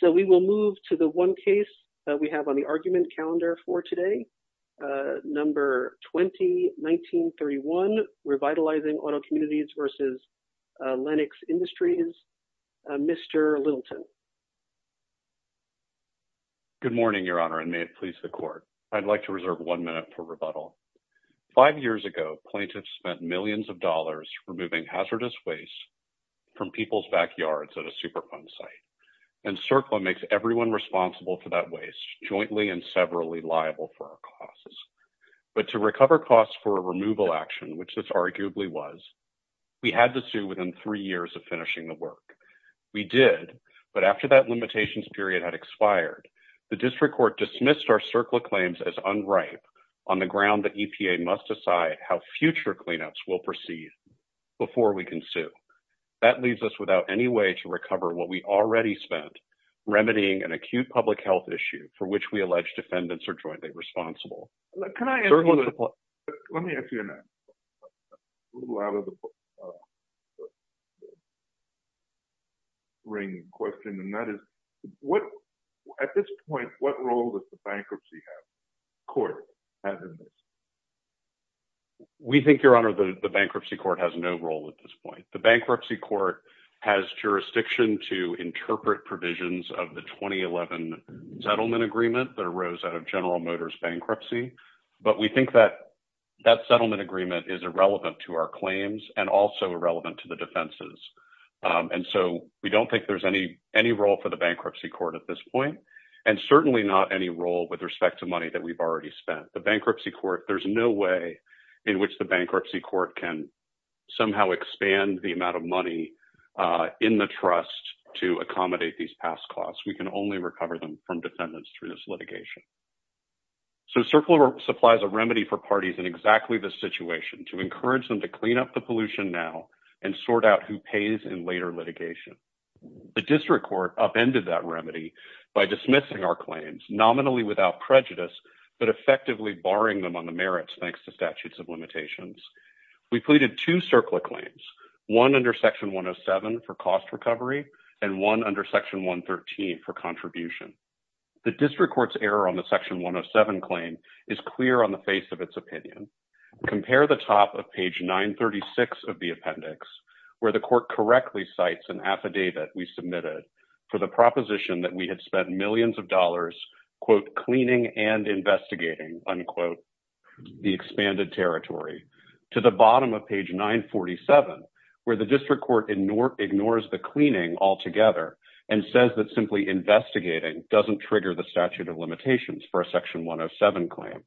So we will move to the one case that we have on the argument calendar for today, number 20-1931, Revitalizing Auto Communities v. Lenox Industries. Mr. Littleton. Good morning, Your Honor, and may it please the Court. I'd like to reserve one minute for rebuttal. Five years ago, plaintiffs spent millions of dollars removing hazardous waste from people's backyards at a Superfund site, and CERCLA makes everyone responsible for that waste jointly and severally liable for our costs. But to recover costs for a removal action, which this arguably was, we had to sue within three years of finishing the work. We did, but after that limitations period had expired, the District Court dismissed our CERCLA claims as unripe on the ground that EPA must decide how future cleanups will proceed before we can sue. That leaves us without any way to recover what we already spent remedying an acute public health issue for which we allege defendants are jointly responsible. Let me ask you an out-of-the-ring question, and that is, at this point, what role does the bankruptcy court have in this? We think, Your Honor, the bankruptcy court has no role at this point. The bankruptcy court has jurisdiction to interpret provisions of the 2011 settlement agreement that arose out of General Motors bankruptcy, but we think that that settlement agreement is irrelevant to our claims and also irrelevant to the defenses. And so we don't think there's any role for the bankruptcy court at this point, and certainly not any role with respect to money that we've already spent. There's no way in which the bankruptcy court can somehow expand the amount of money in the trust to accommodate these past costs. We can only recover them from defendants through this litigation. So CERCLA supplies a remedy for parties in exactly this situation to encourage them to clean up the pollution now and sort out who pays in later litigation. The District Court upended that remedy by dismissing our claims nominally without prejudice, but effectively barring them on the merits thanks to statutes of limitations. We pleaded two CERCLA claims, one under Section 107 for cost recovery and one under Section 113 for contribution. The District Court's error on the Section 107 claim is clear on the face of its opinion. Compare the top of page 936 of the appendix, where the court correctly cites an affidavit we submitted for the proposition that we had spent millions of dollars, quote, cleaning and investigating, unquote, the expanded territory, to the bottom of page 947, where the District Court ignores the cleaning altogether and says that simply investigating doesn't trigger the statute of limitations for a Section 107 claim.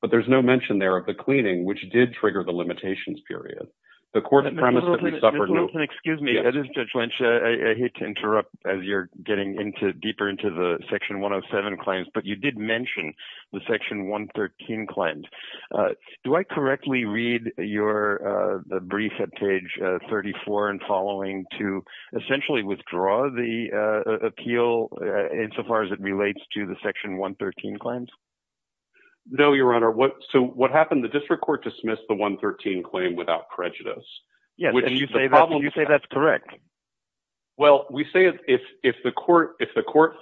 But there's no mention there of the cleaning, which did trigger the limitations period. The court... Excuse me, Judge Lynch, I hate to interrupt as you're getting deeper into the Section 107 claims, but you did mention the Section 113 claims. Do I correctly read your brief at page 34 and following to essentially withdraw the appeal insofar as it relates to the Section 113 claims? No, Your Honor. So what happened? The District Court dismissed the 113 claim without prejudice. Would you say that's correct? Well, we say if the court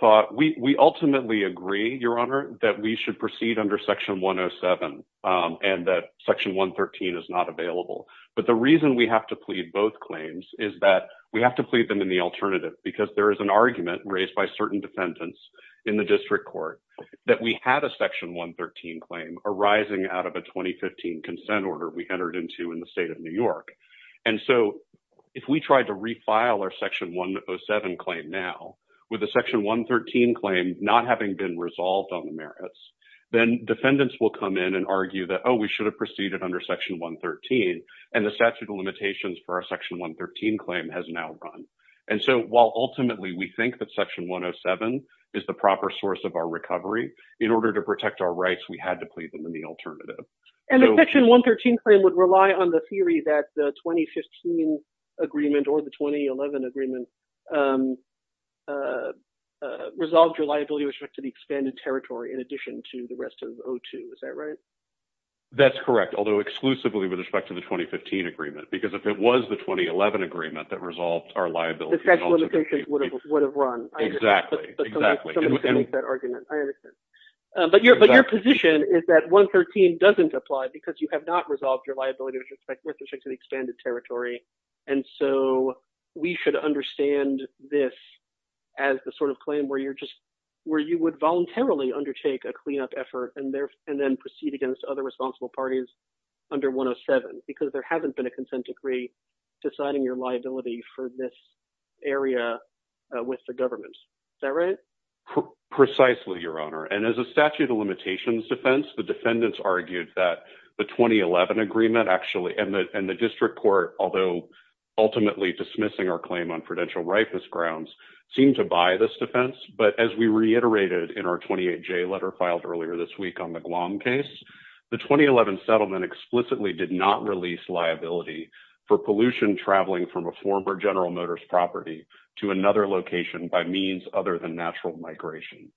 thought... We ultimately agree, Your Honor, that we should proceed under Section 107 and that Section 113 is not available. But the reason we have to plead both claims is that we have to plead them in the alternative because there is an argument raised by certain defendants in the District Court that we had a Section 113 claim arising out of a 2015 consent order we entered into in the state of New York. And so if we tried to refile our Section 107 claim now with a Section 113 claim not having been resolved on the merits, then defendants will come in and argue that, oh, we should have proceeded under Section 113 and the statute of limitations for our Section 113 claim has now run. And so while ultimately we think that Section 107 is the proper source of our recovery, in order to plead them in the alternative. And the Section 113 claim would rely on the theory that the 2015 agreement or the 2011 agreement resolved your liability with respect to the expanded territory in addition to the rest of O2. Is that right? That's correct. Although exclusively with respect to the 2015 agreement. Because if it was the 2011 agreement that resolved our liability... The statute of limitations would have run. Exactly. But your position is that 113 doesn't apply because you have not resolved your liability with respect to the expanded territory. And so we should understand this as the sort of claim where you're just, where you would voluntarily undertake a cleanup effort and then proceed against other responsible parties under 107. Because there hasn't been a consent decree deciding your Precisely, Your Honor. And as a statute of limitations defense, the defendants argued that the 2011 agreement actually, and the district court, although ultimately dismissing our claim on prudential ripest grounds, seemed to buy this defense. But as we reiterated in our 28J letter filed earlier this week on the Guam case, the 2011 settlement explicitly did not release liability for pollution traveling from a former General Motors property to another location by means other than natural migration.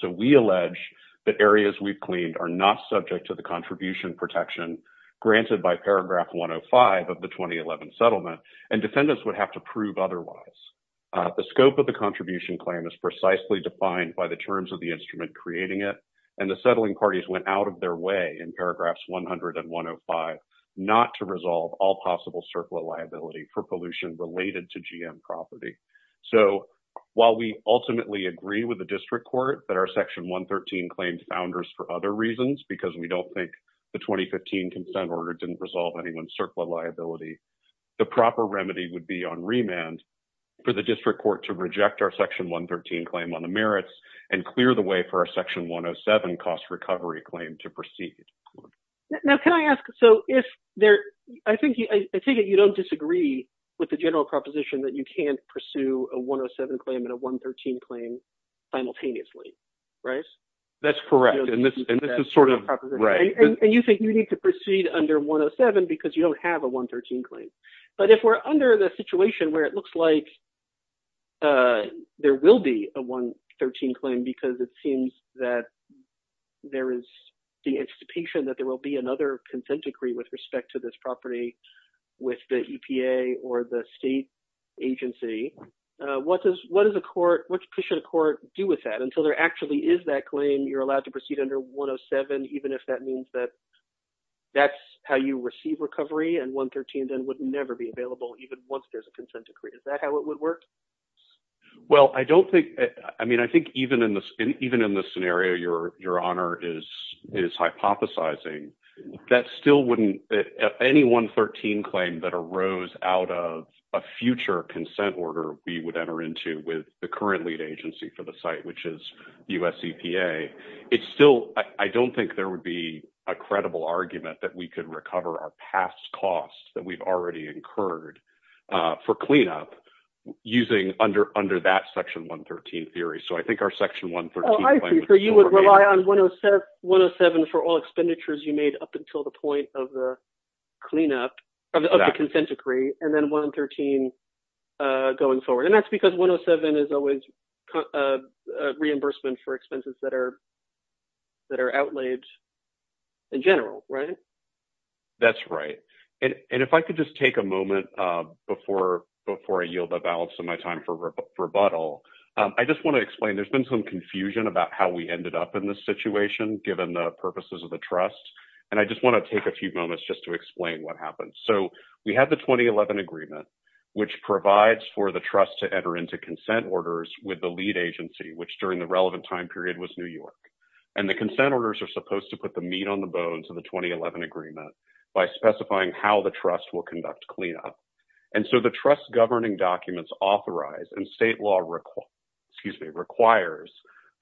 So we allege that areas we've cleaned are not subject to the contribution protection granted by paragraph 105 of the 2011 settlement, and defendants would have to prove otherwise. The scope of the contribution claim is precisely defined by the terms of the instrument creating it, and the settling parties went out of their way in paragraphs 100 and 105 not to resolve all possible circular liability for pollution related to GM property. So while we ultimately agree with the district court that our section 113 claims founders for other reasons, because we don't think the 2015 consent order didn't resolve anyone's circular liability, the proper remedy would be on remand for the district court to reject our section 113 claim on the merits and clear the way for our section 107 cost recovery claim to proceed. Now can I ask, so if there, I think you don't disagree with the general proposition that you can't pursue a 107 claim and a 113 claim simultaneously, right? That's correct, and this is sort of right. And you think you need to proceed under 107 because you don't have a 113 claim, but if we're under the situation where it looks like there will be a 113 claim because it seems that there is the expectation that there will be another consent decree with respect to this property with the EPA or the state agency, what does a court, what should a court do with that until there actually is that claim you're allowed to proceed under 107, even if that means that that's how you receive recovery and 113 then would never be available even once there's a consent decree. Is that how it would work? Well, I don't think, I mean, I think even in this, your honor is, is hypothesizing that still wouldn't, if any 113 claim that arose out of a future consent order we would enter into with the current lead agency for the site, which is US EPA, it's still, I don't think there would be a credible argument that we could recover our past costs that we've already incurred for cleanup using under, under that section 113 theory. So I think our section 113. Oh, I see. So you would rely on 107 for all expenditures you made up until the point of the cleanup of the consent decree and then 113 going forward. And that's because 107 is always a reimbursement for expenses that are, that are outlaid in general, right? That's right. And if I could just take a moment before, before I yield the balance of my time for I just want to explain, there's been some confusion about how we ended up in this situation, given the purposes of the trust. And I just want to take a few moments just to explain what happened. So we have the 2011 agreement, which provides for the trust to enter into consent orders with the lead agency, which during the relevant time period was New York. And the consent orders are supposed to put the meat on the bones of the 2011 agreement by specifying how the trust will conduct cleanup. And so the trust governing documents authorized and state law, excuse me, requires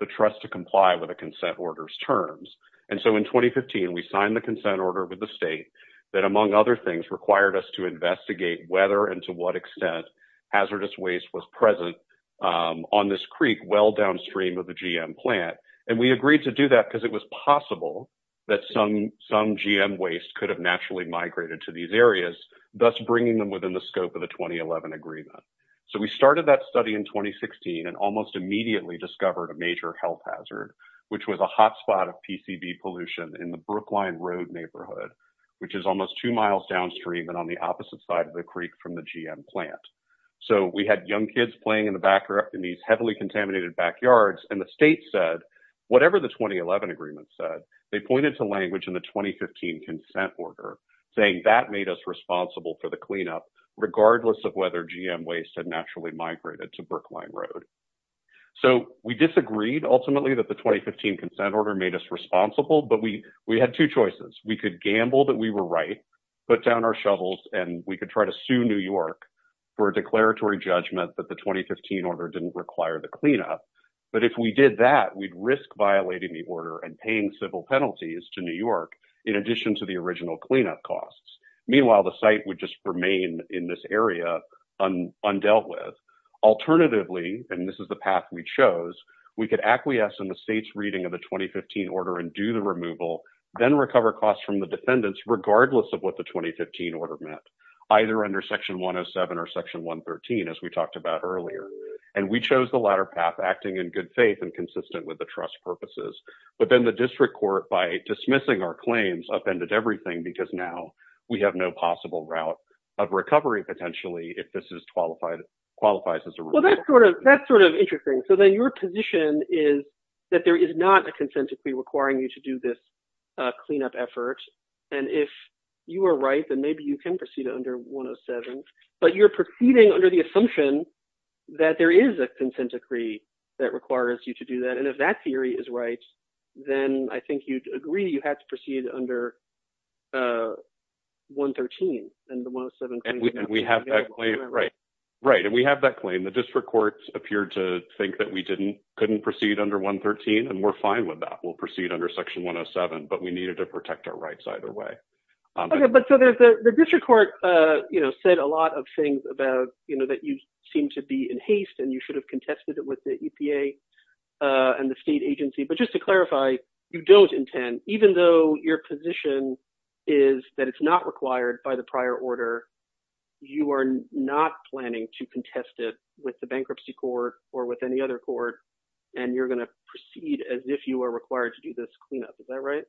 the trust to comply with a consent orders terms. And so in 2015, we signed the consent order with the state that among other things required us to investigate whether, and to what extent hazardous waste was present on this Creek, well downstream of the GM plant. And we agreed to do that because it was possible that some, some GM waste could have naturally migrated to these areas, thus bringing them within the scope of the 2011 agreement. So we started that study in 2016, and almost immediately discovered a major health hazard, which was a hotspot of PCB pollution in the Brookline road neighborhood, which is almost two miles downstream and on the opposite side of the Creek from the GM plant. So we had young kids playing in the back or in these heavily contaminated backyards. And the state said, whatever the 2011 agreement said, they pointed to language in the 2015 consent order saying that made us responsible for the cleanup, regardless of whether GM waste had naturally migrated to Brookline road. So we disagreed ultimately that the 2015 consent order made us responsible, but we, we had two choices. We could gamble that we were right, put down our shovels, and we could try to sue New York for a declaratory judgment that the But if we did that, we'd risk violating the order and paying civil penalties to New York, in addition to the original cleanup costs. Meanwhile, the site would just remain in this area undealt with. Alternatively, and this is the path we chose, we could acquiesce in the state's reading of the 2015 order and do the removal, then recover costs from the defendants, regardless of what the 2015 order meant, either under section 107 or section 113, as we talked about earlier. And we chose the latter path, acting in good faith and consistent with the trust purposes. But then the district court, by dismissing our claims, upended everything because now we have no possible route of recovery, potentially, if this is qualified, qualifies as a Well, that's sort of, that's sort of interesting. So then your position is that there is not a consent decree requiring you to do this cleanup effort. And if you are right, then maybe you can under 107, but you're proceeding under the assumption that there is a consent decree that requires you to do that. And if that theory is right, then I think you'd agree, you have to proceed under 113 and the 107. And we have that claim. Right. Right. And we have that claim. The district court appeared to think that we didn't, couldn't proceed under 113. And we're fine with that. We'll proceed under section 107, but we needed to protect our rights either way. Okay, but so there's the district court, you know, said a lot of things about, you know, that you seem to be in haste and you should have contested it with the EPA and the state agency. But just to clarify, you don't intend, even though your position is that it's not required by the prior order, you are not planning to contest it with the bankruptcy court or with any other court and you're going to proceed as if you are required to do this is that right?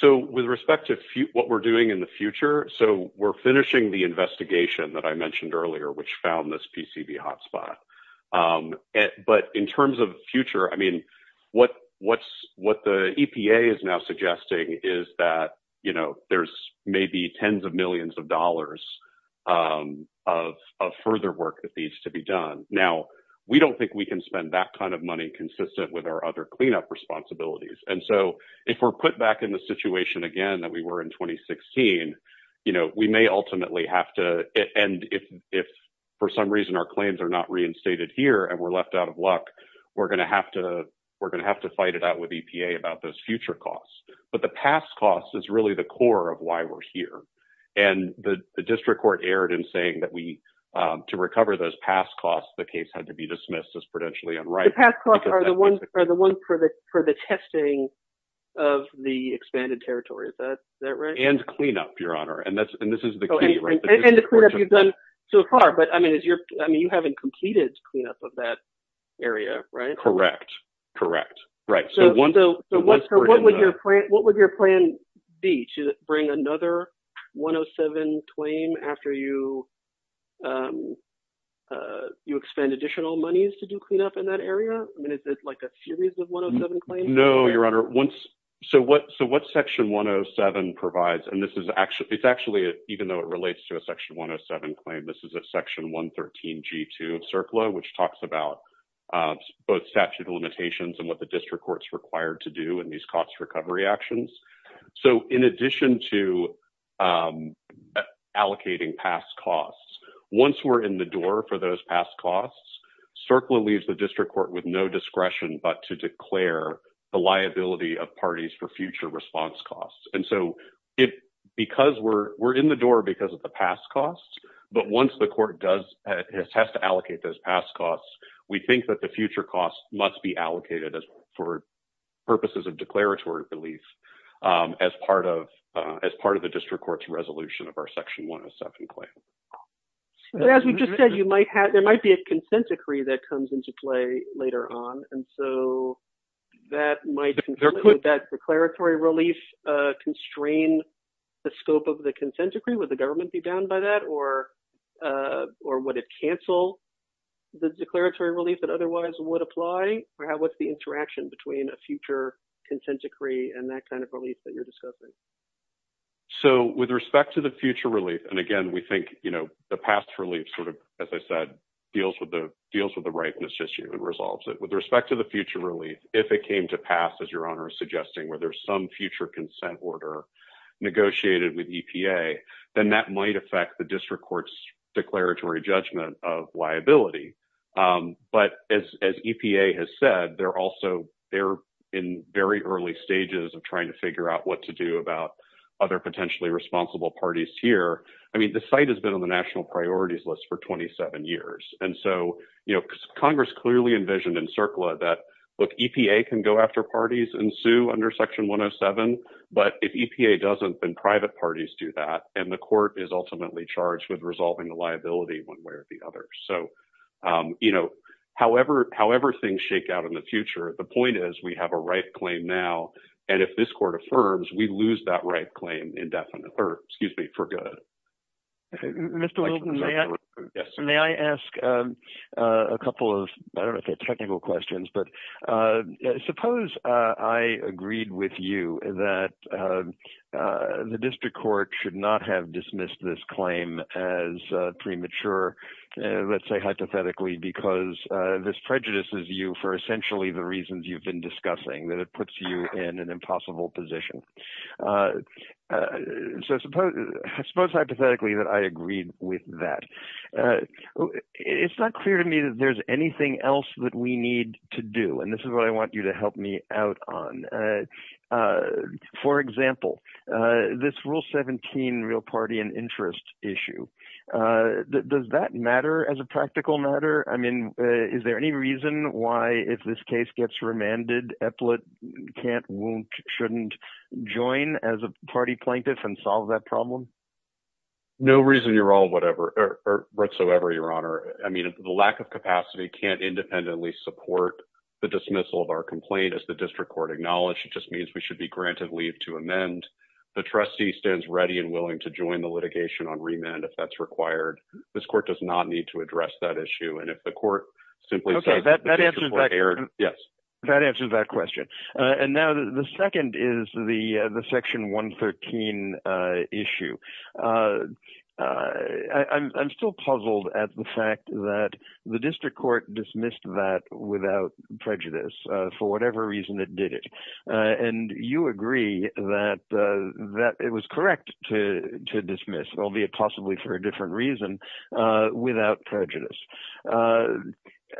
So with respect to what we're doing in the future, so we're finishing the investigation that I mentioned earlier, which found this PCB hotspot. But in terms of future, I mean, what, what's, what the EPA is now suggesting is that, you know, there's maybe tens of millions of dollars of, of further work that needs to be done. Now, we don't think we can spend that kind of money consistent with our other cleanup responsibilities. And so if we're put back in the situation again, that we were in 2016, you know, we may ultimately have to, and if, if for some reason, our claims are not reinstated here and we're left out of luck, we're going to have to, we're going to have to fight it out with EPA about those future costs. But the past costs is really the core of why we're here. And the district court erred in saying that to recover those past costs, the case had to be dismissed as potentially unrighteous. The past costs are the ones, are the ones for the, for the testing of the expanded territory. Is that right? And cleanup, your honor. And that's, and this is the case. And the cleanup you've done so far, but I mean, is your, I mean, you haven't completed cleanup of that area, right? Correct. Correct. Right. So what would your plan, what would your plan be? Should it bring another 107 twain after you um, uh, you expand additional monies to do cleanup in that area? I mean, is this like a series of 107 claims? No, your honor. Once, so what, so what section 107 provides, and this is actually, it's actually, even though it relates to a section 107 claim, this is a section 113 G2 of CERCLA, which talks about, um, both statute limitations and what the district court's required to do in these actions. So in addition to, um, uh, allocating past costs, once we're in the door for those past costs, CERCLA leaves the district court with no discretion, but to declare the liability of parties for future response costs. And so it, because we're, we're in the door because of the past costs, but once the court does has to allocate those past costs, we think that the future costs must be allocated for purposes of declaratory relief, um, as part of, uh, as part of the district court's resolution of our section 107 claim. But as we just said, you might have, there might be a consent decree that comes into play later on. And so that might, that declaratory relief, uh, constrain the scope of the consent decree. Would the government be down by that or, uh, or would it cancel the declaratory relief that otherwise would apply? Or how, what's the interaction between a future consent decree and that kind of relief that you're discussing? So with respect to the future relief, and again, we think, you know, the past relief sort of, as I said, deals with the, deals with the ripeness issue and resolves it. With respect to the future relief, if it came to pass, your honor is suggesting where there's some future consent order negotiated with EPA, then that might affect the district court's declaratory judgment of liability. Um, but as, as EPA has said, they're also, they're in very early stages of trying to figure out what to do about other potentially responsible parties here. I mean, the site has been on the national priorities list for 27 years. And so, you know, Congress clearly envisioned in CERCLA that, look, EPA can go after parties and sue under section 107. But if EPA doesn't, then private parties do that. And the court is ultimately charged with resolving the liability one way or the other. So, um, you know, however, however things shake out in the future, the point is we have a right claim now. And if this court affirms, we lose that right claim indefinitely, or excuse me. May I ask a couple of, I don't know if they're technical questions, but, uh, suppose, uh, I agreed with you that, um, uh, the district court should not have dismissed this claim as a premature, uh, let's say hypothetically, because, uh, this prejudices you for essentially the reasons you've been discussing that it puts you in an impossible position. Uh, uh, so suppose hypothetically that I agreed with that. Uh, it's not clear to me that there's anything else that we need to do. And this is what I want you to help me out on. Uh, uh, for example, uh, this rule 17 real party and interest issue, uh, does that matter as a practical matter? I mean, is there any reason why if this case gets remanded, Epplet can't won't shouldn't join as a party plaintiff and solve that problem? No reason you're all whatever or whatsoever, your Honor. I mean, the lack of capacity can't independently support the dismissal of our complaint as the district court acknowledged. It just means we should be granted leave to amend. The trustee stands ready and willing to join the litigation on remand. If that's required, this court does not need to address that issue. And if the court simply says, yes, that answers that question. Uh, and now the second is the, uh, the section one 13, uh, issue. Uh, uh, I'm, I'm still puzzled at the fact that the district court dismissed that without prejudice, uh, for whatever reason it did it. Uh, and you agree that, uh, that it was correct to, to dismiss there'll be a possibly for a different reason, uh, without prejudice. Uh,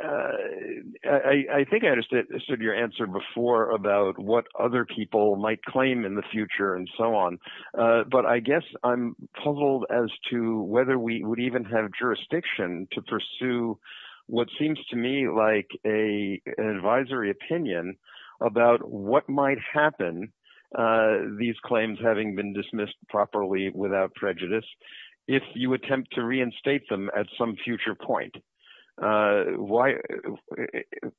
uh, I, I think I understood your answer before about what other people might claim in the future and so on. Uh, but I guess I'm puzzled as to whether we would even have jurisdiction to pursue what seems to me like a, an advisory opinion about what might happen. Uh, these claims having been dismissed properly without prejudice, if you attempt to reinstate them at some future point, uh, why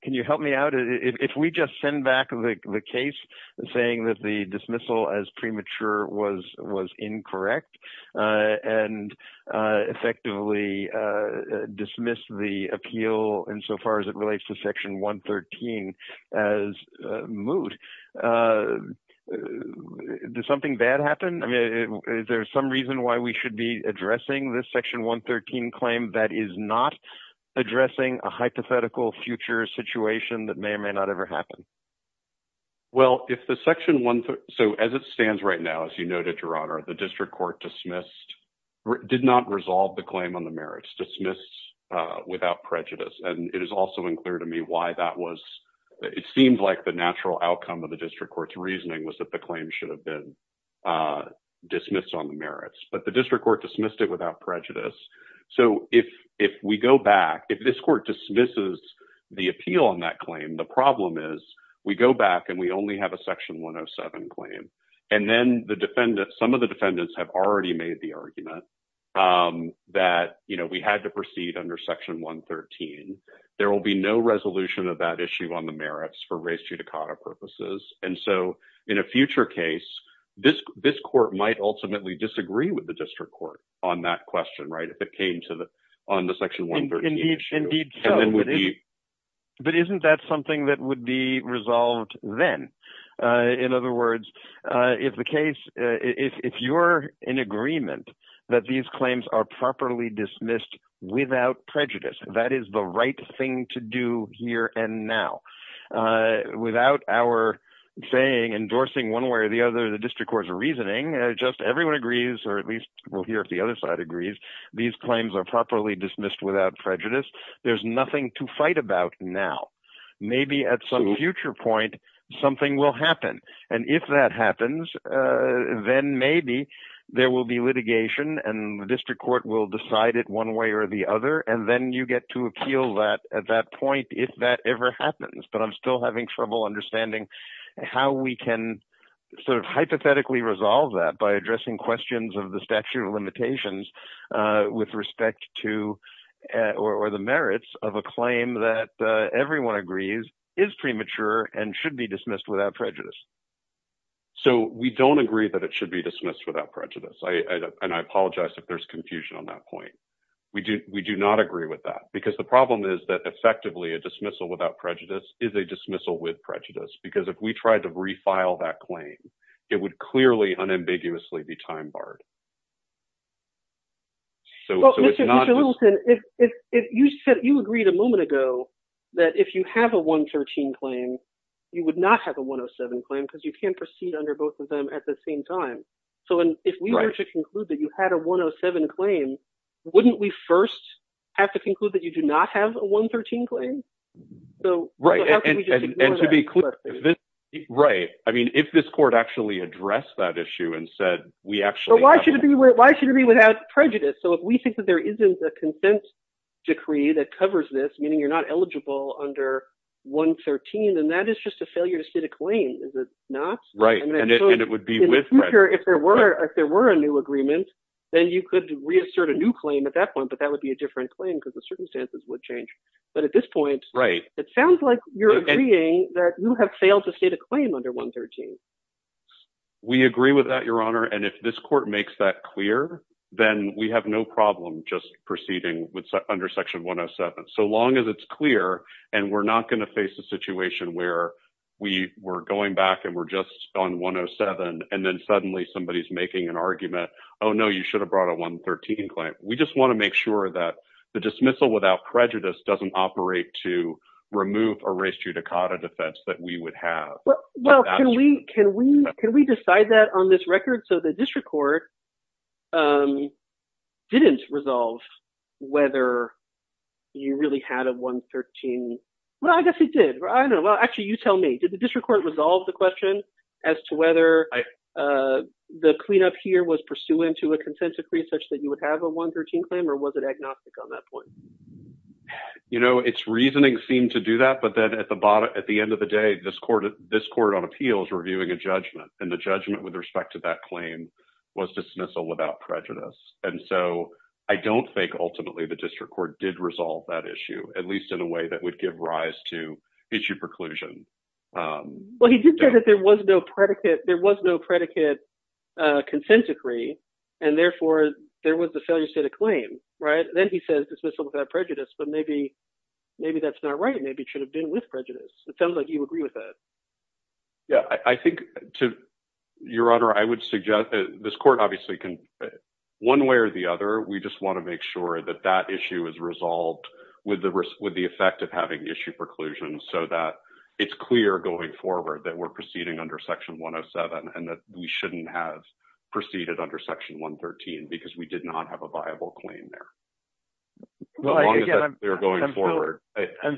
can you help me out? If we just send back the case saying that the dismissal as premature was, was incorrect, uh, and, uh, effectively, uh, dismissed the appeal in so far as it relates to section one 13 as a mood, uh, did something bad happen? I mean, is there some reason why we should be addressing this section one 13 claim that is not addressing a hypothetical future situation that may or may not ever happen? Well, if the section one, so as it stands right now, as you noted, your honor, the district court dismissed, did not resolve the claim on the dismissed, uh, without prejudice. And it is also unclear to me why that was, it seems like the natural outcome of the district court's reasoning was that the claim should have been, uh, dismissed on the merits, but the district court dismissed it without prejudice. So if, if we go back, if this court dismisses the appeal on that claim, the problem is we go back and we only have a section one of seven claim. And then the defendant, some of the defendants have already made the argument, um, that, you know, we had to proceed under section one 13, there will be no resolution of that issue on the merits for race to Dakota purposes. And so in a future case, this, this court might ultimately disagree with the district court on that question, right? If it came to the, on the section one, but isn't that something that would be resolved then? Uh, in other words, uh, if the case, uh, if you're in agreement that these claims are properly dismissed without prejudice, that is the right thing to do here. And now, uh, without our saying endorsing one way or the other, the district court's reasoning, just everyone agrees, or at least we'll hear if the other side agrees, these claims are properly dismissed without prejudice. There's nothing to fight about now. Maybe at some future point, something will happen. And if that happens, uh, then maybe there will be litigation and the district court will decide it one way or the other. And then you get to appeal that at that point, if that ever happens, but I'm still having trouble understanding how we can sort of hypothetically resolve that by addressing questions of the everyone agrees is premature and should be dismissed without prejudice. So we don't agree that it should be dismissed without prejudice. I, and I apologize if there's confusion on that point. We do, we do not agree with that because the problem is that effectively a dismissal without prejudice is a dismissal with prejudice because if we tried to refile that claim, it would clearly unambiguously be time-barred. So, if you said you agreed a moment ago that if you have a one 13 claim, you would not have a one Oh seven claim because you can't proceed under both of them at the same time. So if we were to conclude that you had a one Oh seven claim, wouldn't we first have to conclude that you do not have a one 13 claim? Right. And to be clear, right. I mean, if this court actually addressed that issue and said, why should it be without prejudice? So if we think that there isn't a consent decree that covers this, meaning you're not eligible under one 13, then that is just a failure to state a claim. Is it not? Right. And it would be with, if there were, if there were a new agreement, then you could reassert a new claim at that point, but that would be a different claim because the circumstances would change. But at this point, it sounds like you're agreeing that you have failed to state a claim under one 13. We agree with that, your honor. And if this court makes that clear, then we have no problem just proceeding with under section one Oh seven. So long as it's clear and we're not going to face a situation where we were going back and we're just on one Oh seven. And then suddenly somebody is making an argument. Oh no, you should have brought a one 13 claim. We just want to make sure that the dismissal without prejudice doesn't operate to move a race to Dakota defense that we would have. Well, can we, can we, can we decide that on this record? So the district court, um, didn't resolve whether you really had a one 13. Well, I guess it did. I don't know. Well, actually you tell me, did the district court resolve the question as to whether, uh, the cleanup here was pursuant to a consent decree such that you would have a one 13 claim or was it agnostic on that point? You know, it's reasoning seemed to do that, but then at the bottom, at the end of the day, this court, this court on appeals reviewing a judgment and the judgment with respect to that claim was dismissal without prejudice. And so I don't think ultimately the district court did resolve that issue, at least in a way that would give rise to issue preclusion. Um, well, he did say that there was no predicate, there was no predicate, uh, consent decree, and therefore there was the failure state of claim, right? Then he says dismissal without prejudice, but maybe, maybe that's not right. Maybe it should have been with prejudice. It sounds like you agree with that. Yeah, I think to your honor, I would suggest that this court obviously can one way or the other. We just want to make sure that that issue is resolved with the risk, with the effect of having issue preclusion so that it's clear going forward that we're proceeding under section 107 and that we shouldn't have proceeded under section 113 because we did not have a viable claim there. I'm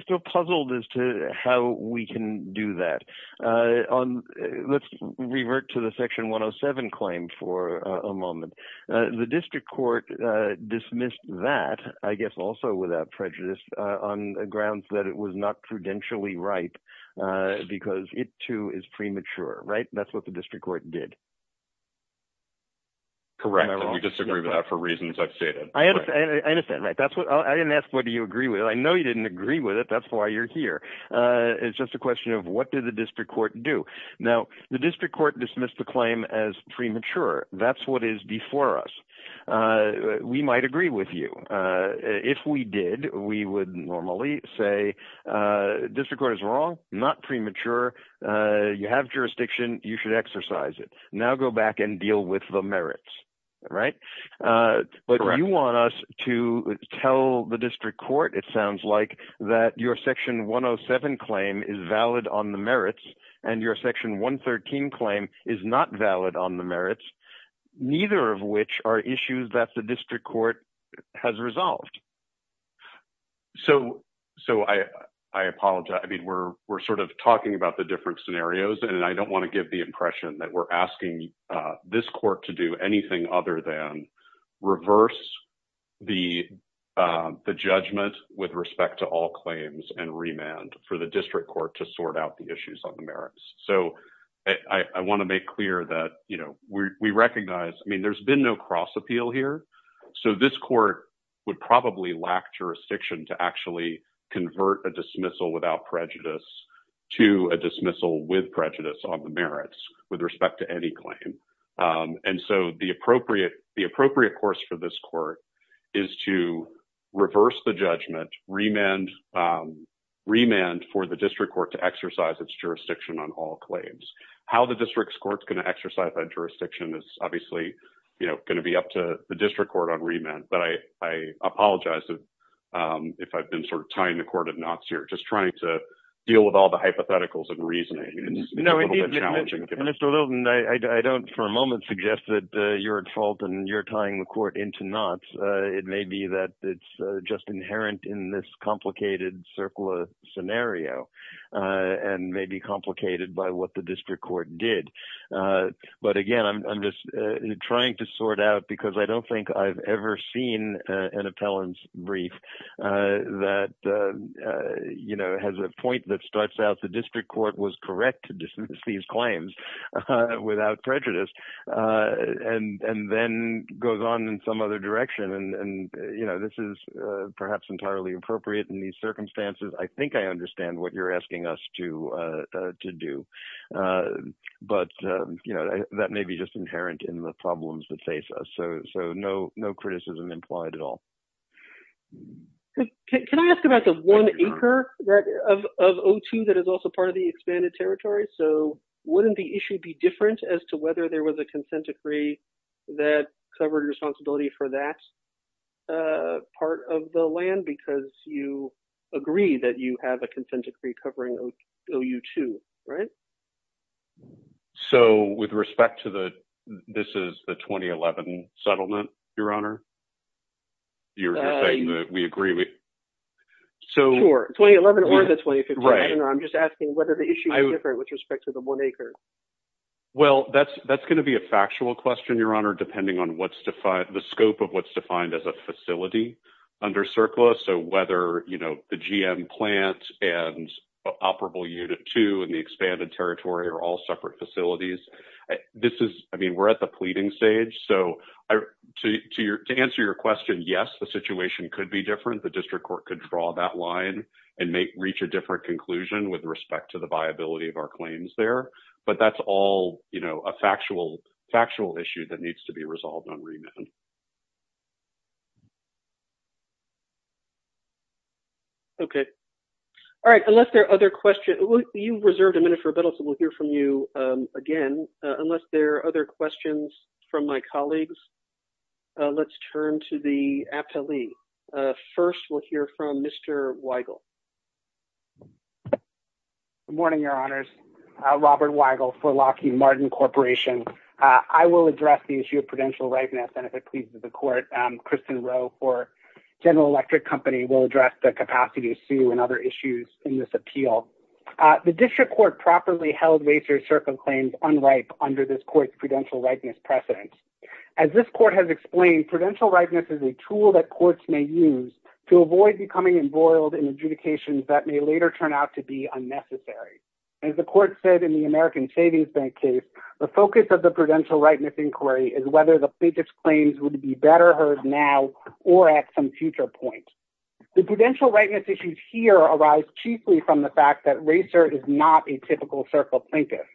still puzzled as to how we can do that. Uh, on let's revert to the section 107 claim for a moment. Uh, the district court, uh, dismissed that, I guess, also without prejudice, uh, on grounds that it was not prudentially right, uh, because it too is premature, right? That's what the district court did. Correct. We disagree with that for reasons I've stated. I understand. Right. That's what I didn't ask. What do you agree with? I know you didn't agree with it. That's why you're here. Uh, it's just a question of what did the district court do now? The district court dismissed the claim as premature. That's what is before us. Uh, we might agree with you. Uh, if we did, we would normally say, uh, district court is wrong, not premature. Uh, you have jurisdiction, you should exercise it. Now go back and deal with the merits, right? Uh, but you want us to tell the district court, it sounds like that your section 107 claim is valid on the merits and your section 113 claim is not valid on the merits, neither of which are issues that the district court has resolved. So, so I, I apologize. I mean, we're, we're sort of talking about the scenarios and I don't want to give the impression that we're asking, uh, this court to do anything other than reverse the, um, the judgment with respect to all claims and remand for the district court to sort out the issues on the merits. So I want to make clear that, you know, we recognize, I mean, there's been no cross appeal here. So this court would probably lack jurisdiction to actually convert a dismissal without prejudice to a dismissal with prejudice on the merits with respect to any claim. Um, and so the appropriate, the appropriate course for this court is to reverse the judgment, remand, um, remand for the district court to exercise its jurisdiction on all claims. How the district court's going to exercise that jurisdiction is obviously, you know, going to be up to the district court on remand, but I, I apologize if, um, if I've been sort of tying the cord of knots here, just trying to deal with all the hypotheticals and reasoning. No, I don't for a moment suggest that you're at fault and you're tying the court into knots. Uh, it may be that it's just inherent in this complicated circle of scenario, uh, and maybe complicated by what the district court did. Uh, but again, I'm just trying to sort out because I don't think I've ever seen a, an appellant's brief, uh, that, uh, uh, you know, has a point that starts out the district court was correct to dismiss these claims, uh, without prejudice, uh, and, and then goes on in some other direction. And, and, you know, this is, uh, perhaps entirely appropriate in these circumstances. I think I understand what you're asking us to, uh, but, um, you know, that may be just inherent in the problems that face us. So, so no, no criticism implied at all. Can I ask about the one acre of OT that is also part of the expanded territory? So wouldn't the issue be different as to whether there was a consent decree that covered responsibility for that, uh, part of the land, because you agree that you have consent decree covering OU2, right? So with respect to the, this is the 2011 settlement, your honor, you're saying that we agree with, so... Sure, 2011 or the 2015. I'm just asking whether the issue is different with respect to the one acre. Well, that's, that's going to be a factual question, your honor, depending on what's defined, the scope of what's defined as a and operable unit two and the expanded territory are all separate facilities. This is, I mean, we're at the pleading stage. So I, to, to your, to answer your question, yes, the situation could be different. The district court could draw that line and make, reach a different conclusion with respect to the viability of our claims there, but that's all, you know, a factual, factual issue that needs to be resolved on remand. Okay. All right. Unless there are other questions, you reserved a minute for a bit, so we'll hear from you again, unless there are other questions from my colleagues, let's turn to the appellee. First, we'll hear from Mr. Weigel. Good morning, your honors. Robert Weigel for Lockheed Martin Corporation. I will address the issue of prudential rightness and if it pleases the court, Kristen Rowe for General Electric Company, we'll address the capacity issue and other issues in this appeal. The district court properly held Vasey Circle claims unripe under this court's prudential rightness precedent. As this court has explained, prudential rightness is a tool that courts may use to avoid becoming embroiled in adjudications that may later turn out to be unnecessary. As the court said in the American Savings Bank case, the focus of the prudential rightness inquiry is whether the plaintiff's claims would be better heard now or at some future point. The prudential rightness issues here arise chiefly from the fact that RACER is not a typical Circle plaintiff.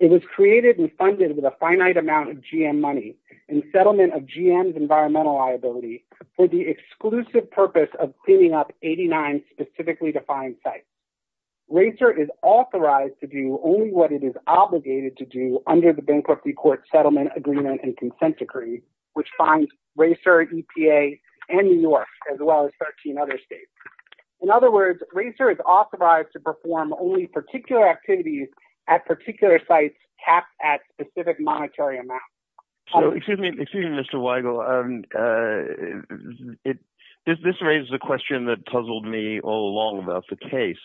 It was created and funded with a finite amount of GM money and settlement of GM's environmental liability for the exclusive purpose of cleaning up 89 specifically defined sites. RACER is authorized to do only what it is obligated to do under the bankruptcy court settlement agreement and consent decree, which funds RACER, EPA, and New York, as well as 13 other states. In other words, RACER is authorized to perform only particular activities at particular sites capped at specific monetary amounts. So, excuse me, excuse me, Mr. Weigel. This raises a question that puzzled me all along about the case.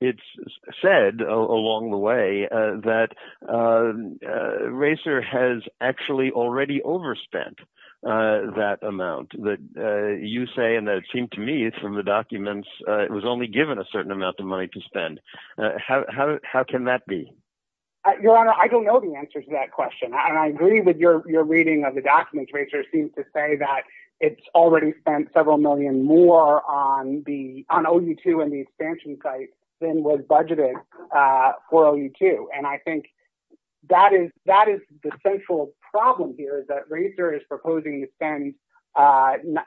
It's said along the way that RACER has actually already overspent that amount. You say, and it seemed to me from the documents, it was only given a certain amount of money to spend. How can that be? Your Honor, I don't know the answer to that question. I agree with your reading of the RACER seems to say that it's already spent several million more on OU2 and the expansion site than was budgeted for OU2. And I think that is the central problem here is that RACER is proposing to spend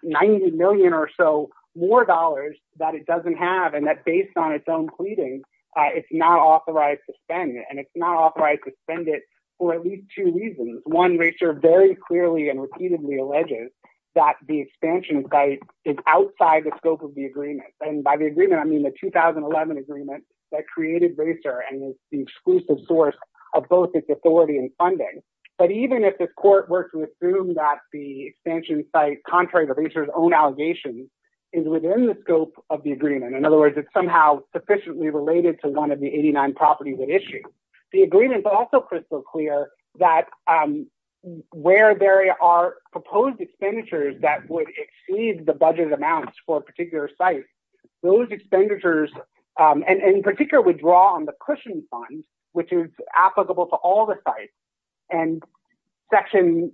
90 million or so more dollars that it doesn't have and that based on its own pleading, it's not authorized to spend. And it's not authorized to spend it for at least two reasons. One, RACER very clearly and repeatedly alleges that the expansion site is outside the scope of the agreement. And by the agreement, I mean the 2011 agreement that created RACER and is the exclusive source of both its authority and funding. But even if the court were to assume that the expansion site, contrary to RACER's own allegations, is within the scope of the agreement. In other words, it's somehow sufficiently related to one of the 89 properties at issue. The agreement is also crystal clear that where there are proposed expenditures that would exceed the budget amounts for a particular site, those expenditures, and in particular, we draw on the cushion fund, which is applicable to all the sites. And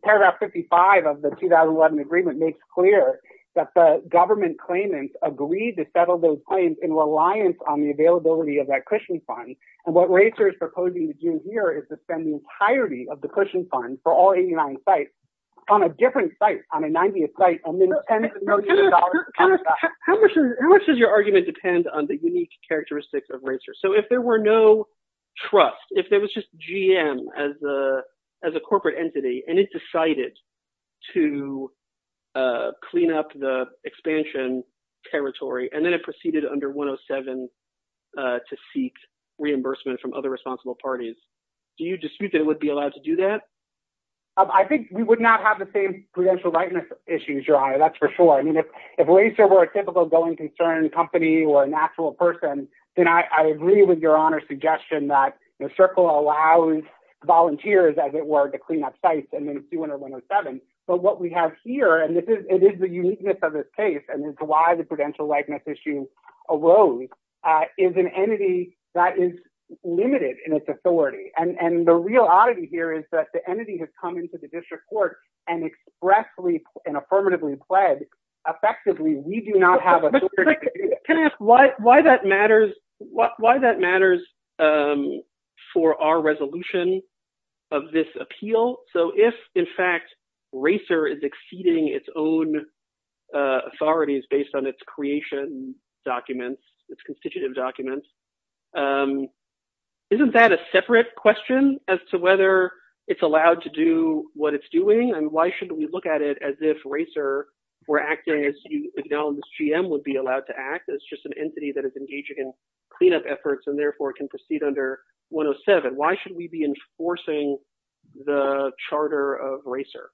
paragraph 55 of the 2011 agreement makes clear that the government claimants agreed to settle those claims in reliance on the year is to spend the entirety of the cushion fund for all 89 sites on a different site, on a 90th site. How much does your argument depend on the unique characteristics of RACER? So if there were no trust, if there was just GM as a corporate entity, and it decided to clean up the expansion territory, and then it proceeded under 107 to seek reimbursement from other responsible parties, do you dispute that it would be allowed to do that? I think we would not have the same prudential rightness issues, your honor. That's for sure. I mean, if RACER were a typical going concern company or an actual person, then I agree with your honor's suggestion that the circle allows volunteers, as it were, to clean up sites, and then 207. But what we have here, and it is the uniqueness of this case, and it's why the prudential rightness issues arose, is an entity that is limited in its authority. And the real oddity here is that the entity has come into the district court and expressly and affirmatively pledged, effectively, we do not have authority to do that. Can I ask why that matters for our resolution of this appeal? So if, in fact, RACER is exceeding its own authorities based on its creation documents, its constitutive documents, isn't that a separate question as to whether it's allowed to do what it's doing? And why should we look at it as if RACER were acting as you acknowledge GM would be allowed to act as just an entity that is engaging in cleanup efforts and therefore can proceed under 107? Why should we be enforcing the charter of RACER?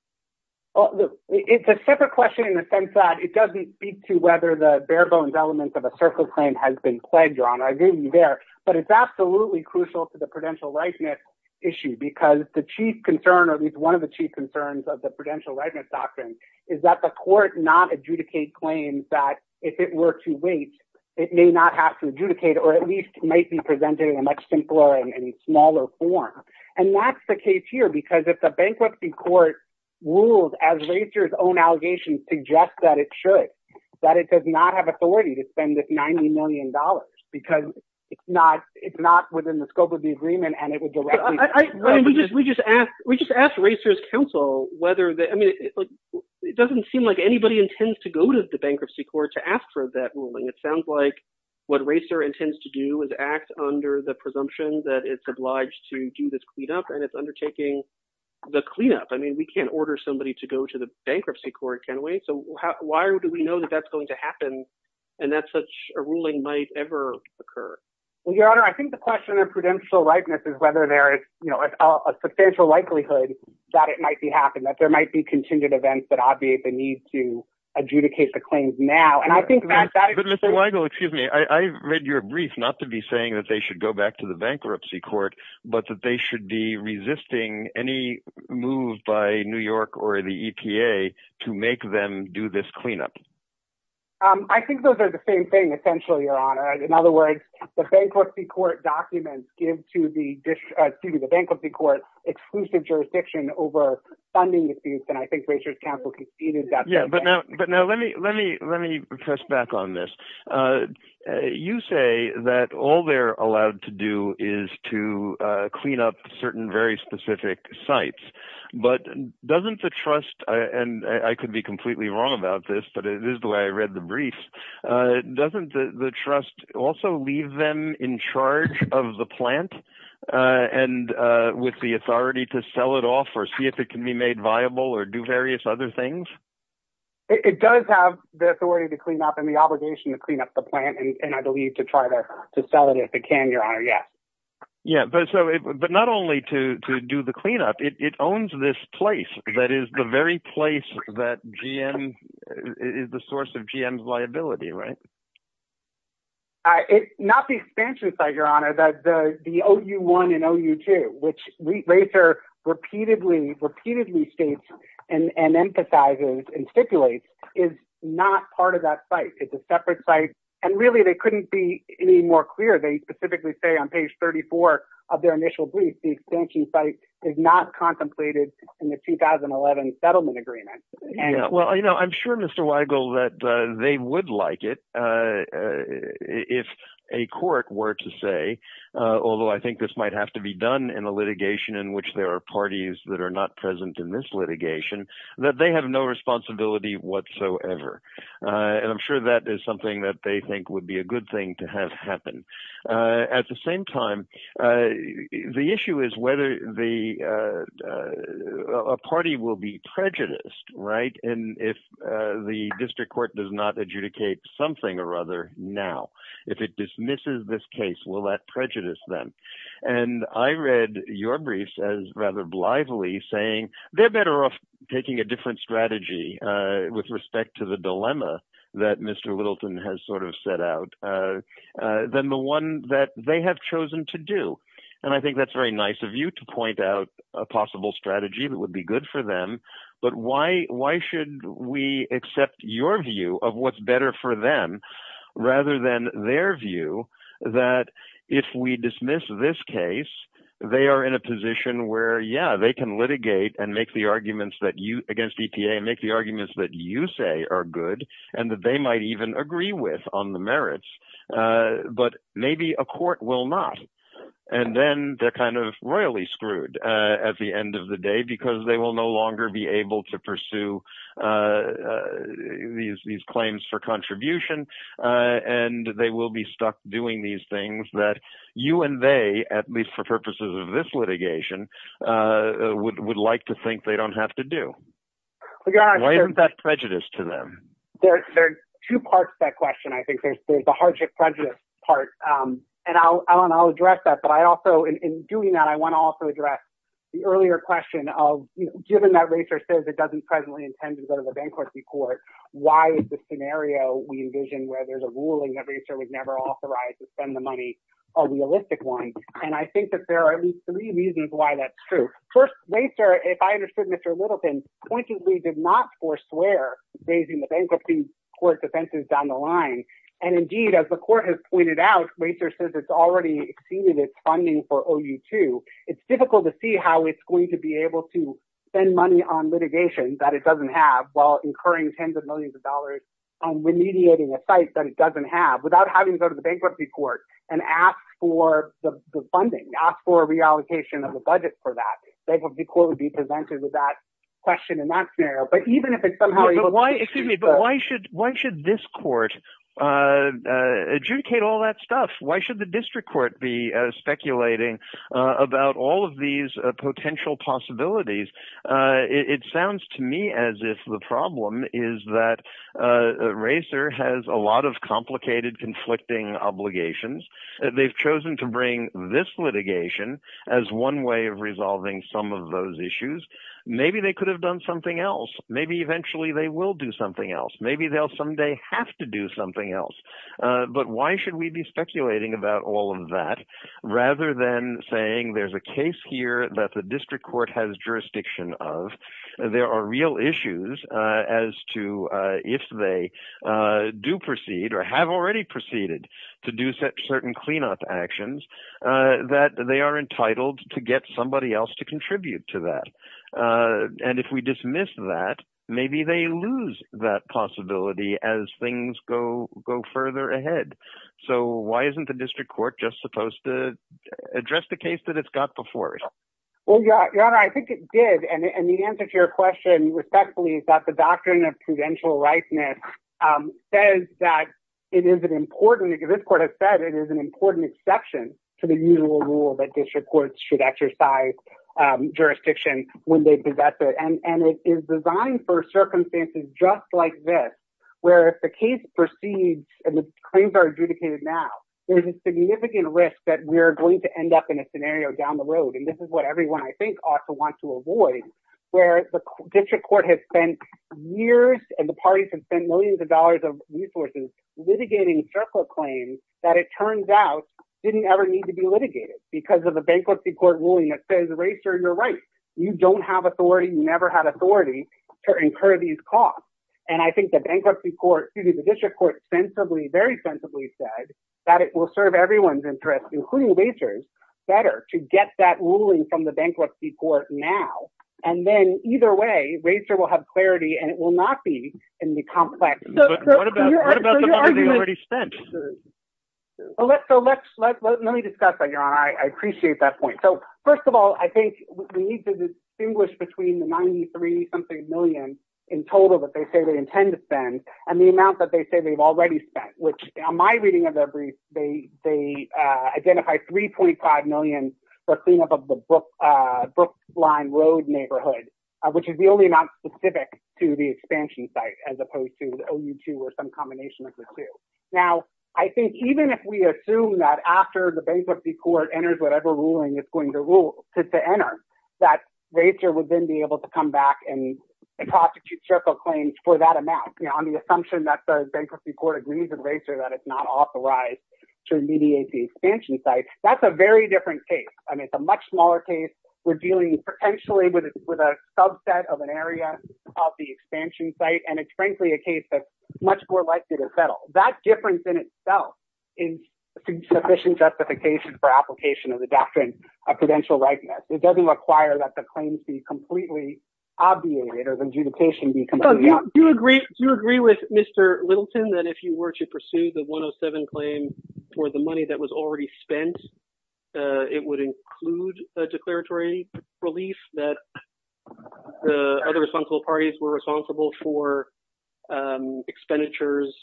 Well, it's a separate question in the sense that it doesn't speak to whether the bare bones elements of a circle claim has been pledged, your honor. I agree with you there. But it's absolutely crucial to the prudential rightness issue, because the chief concern, or at least one of the chief concerns of the prudential rightness doctrine, is that the court not adjudicate claims that, if it were to wait, it may not have to adjudicate, or at least might be presenting a much simpler and smaller form. And that's the case here, because if the bankruptcy court rules as RACER's own allegations suggest that it should, that it does not have authority to spend this $90 million, because it's not within the scope of the agreement. We just asked RACER's counsel whether, I mean, it doesn't seem like anybody intends to go to the bank to act under the presumption that it's obliged to do this cleanup, and it's undertaking the cleanup. I mean, we can't order somebody to go to the bankruptcy court, can we? So why do we know that that's going to happen, and that such a ruling might ever occur? Well, your honor, I think the question of prudential rightness is whether there is a substantial likelihood that it might be happening, that there might be contingent events that obviate the need to adjudicate the claims now. And I think that that... Mr. Weigel, excuse me, I read your brief not to be saying that they should go back to the bankruptcy court, but that they should be resisting any move by New York or the EPA to make them do this cleanup. I think those are the same thing, essentially, your honor. In other words, the bankruptcy court documents give to the bankruptcy court exclusive jurisdiction over funding disputes, and I think RACER's counsel conceded that. But now, let me press back on this. You say that all they're allowed to do is to clean up certain very specific sites, but doesn't the trust, and I could be completely wrong about this, but it is the way I read the brief, doesn't the trust also leave them in charge of the plant and with the authority to sell it off or see if it can be made viable or do various other things? It does have the authority to clean up and the obligation to clean up the plant, and I believe to try to sell it if it can, your honor, yes. Yeah, but not only to do the cleanup, it owns this place that is the very place that is the source of GM's liability, right? It's not the expansion site, your honor, but the OU1 and OU2, which RACER repeatedly states and emphasizes and stipulates is not part of that site. It's a separate site, and really, they couldn't be any more clear. They specifically say on page 34 of their initial brief, the expansion site is not contemplated in the 2011 settlement agreement. Well, I'm sure, Mr. Weigel, that they would like it if a court were to say, although I think this might have to be done in a litigation in which there are parties that are present in this litigation, that they have no responsibility whatsoever, and I'm sure that is something that they think would be a good thing to have happen. At the same time, the issue is whether a party will be prejudiced, right? And if the district court does not adjudicate something or other now, if it dismisses this case, will that prejudice them? And I read your briefs as saying they're better off taking a different strategy with respect to the dilemma that Mr. Littleton has sort of set out than the one that they have chosen to do, and I think that's very nice of you to point out a possible strategy that would be good for them, but why should we accept your view of what's better for them rather than their view that if we dismiss this case, they are in a position where, yeah, they can litigate against EPA and make the arguments that you say are good and that they might even agree with on the merits, but maybe a court will not, and then they're kind of royally screwed at the end of the day because they will no longer be able to pursue these claims for contribution, and they will be stuck doing these things that you and they, at least for purposes of this litigation, would like to think they don't have to do. Why isn't that prejudice to them? There's two parts to that question, I think. There's the hardship prejudice part, and I'll address that, but I also, in doing that, I want to also address the earlier question of, given that RACER says it doesn't presently intend to go to a bankruptcy court, why is the scenario we envision where there's a ruling that RACER would never authorize to spend the money a realistic one? And I think that there are at least three reasons why that's true. First, RACER, if I understood Mr. Littleton, pointedly did not forswear raising the bankruptcy court defenses down the line, and indeed, as the court has pointed out, RACER says it's already exceeded its funding for OU2. It's difficult to see how it's going to be able to spend money on litigation that it doesn't have while incurring tens of millions of dollars on remediating a site that it doesn't have without having to go to the bankruptcy court and ask for the funding, ask for a reallocation of the budget for that. It would be cool to be presented with that question in that scenario, but even if it somehow... Excuse me, but why should this court adjudicate all that stuff? Why should the district court be speculating about all of these potential possibilities? It sounds to me as if the problem is that RACER has a lot of complicated, conflicting obligations. They've chosen to bring this litigation as one way of resolving some of those issues. Maybe they could have done something else. Maybe eventually they will do something else. Maybe they'll someday have to do something else. But why should we be speculating about all that rather than saying there's a case here that the district court has jurisdiction of. There are real issues as to if they do proceed or have already proceeded to do certain cleanup actions that they are entitled to get somebody else to contribute to that. If we dismiss that, maybe they lose that possibility as things go further ahead. So why isn't the district court just supposed to address the case that it's got before it? Well, your honor, I think it did. And the answer to your question respectfully is that the doctrine of prudential richness says that this court has said it is an important exception to the usual rule that district courts should exercise jurisdiction when they possess it. And it is designed for circumstances just like this, where if the case proceeds and the claims are adjudicated now, there's a significant risk that we're going to end up in a scenario down the road. And this is what everyone I think also wants to avoid where the district court has spent years and the parties have spent millions of dollars of resources litigating fair court claims that it turns out didn't ever need to be litigated because of a bankruptcy court ruling that says, Ray, sir, you're right. You don't have authority. You never had authority to incur these costs. And I think the bankruptcy court, excuse me, the district court sensibly, very sensibly said that it will serve everyone's interest, including waiters better to get that ruling from the bankruptcy court now. And then either way, Ray, sir, will have clarity and it will not be in the complex. So let's let's let me discuss that. I appreciate that point. So million in total that they say they intend to spend and the amount that they say they've already spent, which my reading of every day, they identify three point five million for cleanup of the book line road neighborhood, which is the only not specific to the expansion site, as opposed to the only two or some combination of the two. Now, I think even if we assume that after the bankruptcy court enters, whatever ruling is going to rule to enter, that nature would then be able to come back and prosecute circle claims for that amount on the assumption that the bankruptcy court agrees with race or that it's not authorized to mediate the expansion site. That's a very different case. I mean, it's a much smaller case. We're dealing potentially with a subset of an area of the expansion site. And it's frankly a case that's much more likely to settle that difference in itself in sufficient justification for application of the doctrine of prudential rightness. It doesn't require that the claims be completely obviated as adjudication. Do you agree? Do you agree with Mr. Wilson that if you were to pursue the one oh seven claim for the money that was already spent, it would include a declaratory relief that the other responsible parties were responsible for expenditures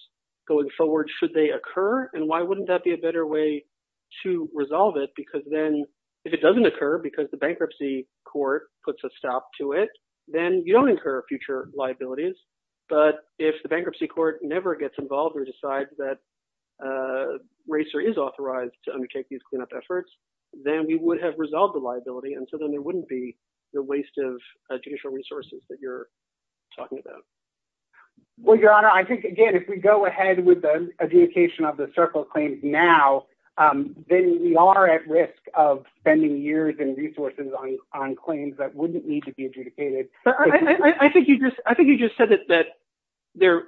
going forward? Should they occur? And why wouldn't that be a better way to resolve it? Because then if it doesn't occur because the bankruptcy court puts a stop to it, then you don't incur future liabilities. But if the bankruptcy court never gets involved or decides that racer is authorized to undertake these cleanup efforts, then we would have resolved the liability. And so then there wouldn't be the waste of judicial resources that you're talking about. Well, Your Honor, I think, again, if we go ahead with the adjudication of the circle claims now, then we are at risk of spending years and resources on claims that wouldn't need to be adjudicated. I think you just said that it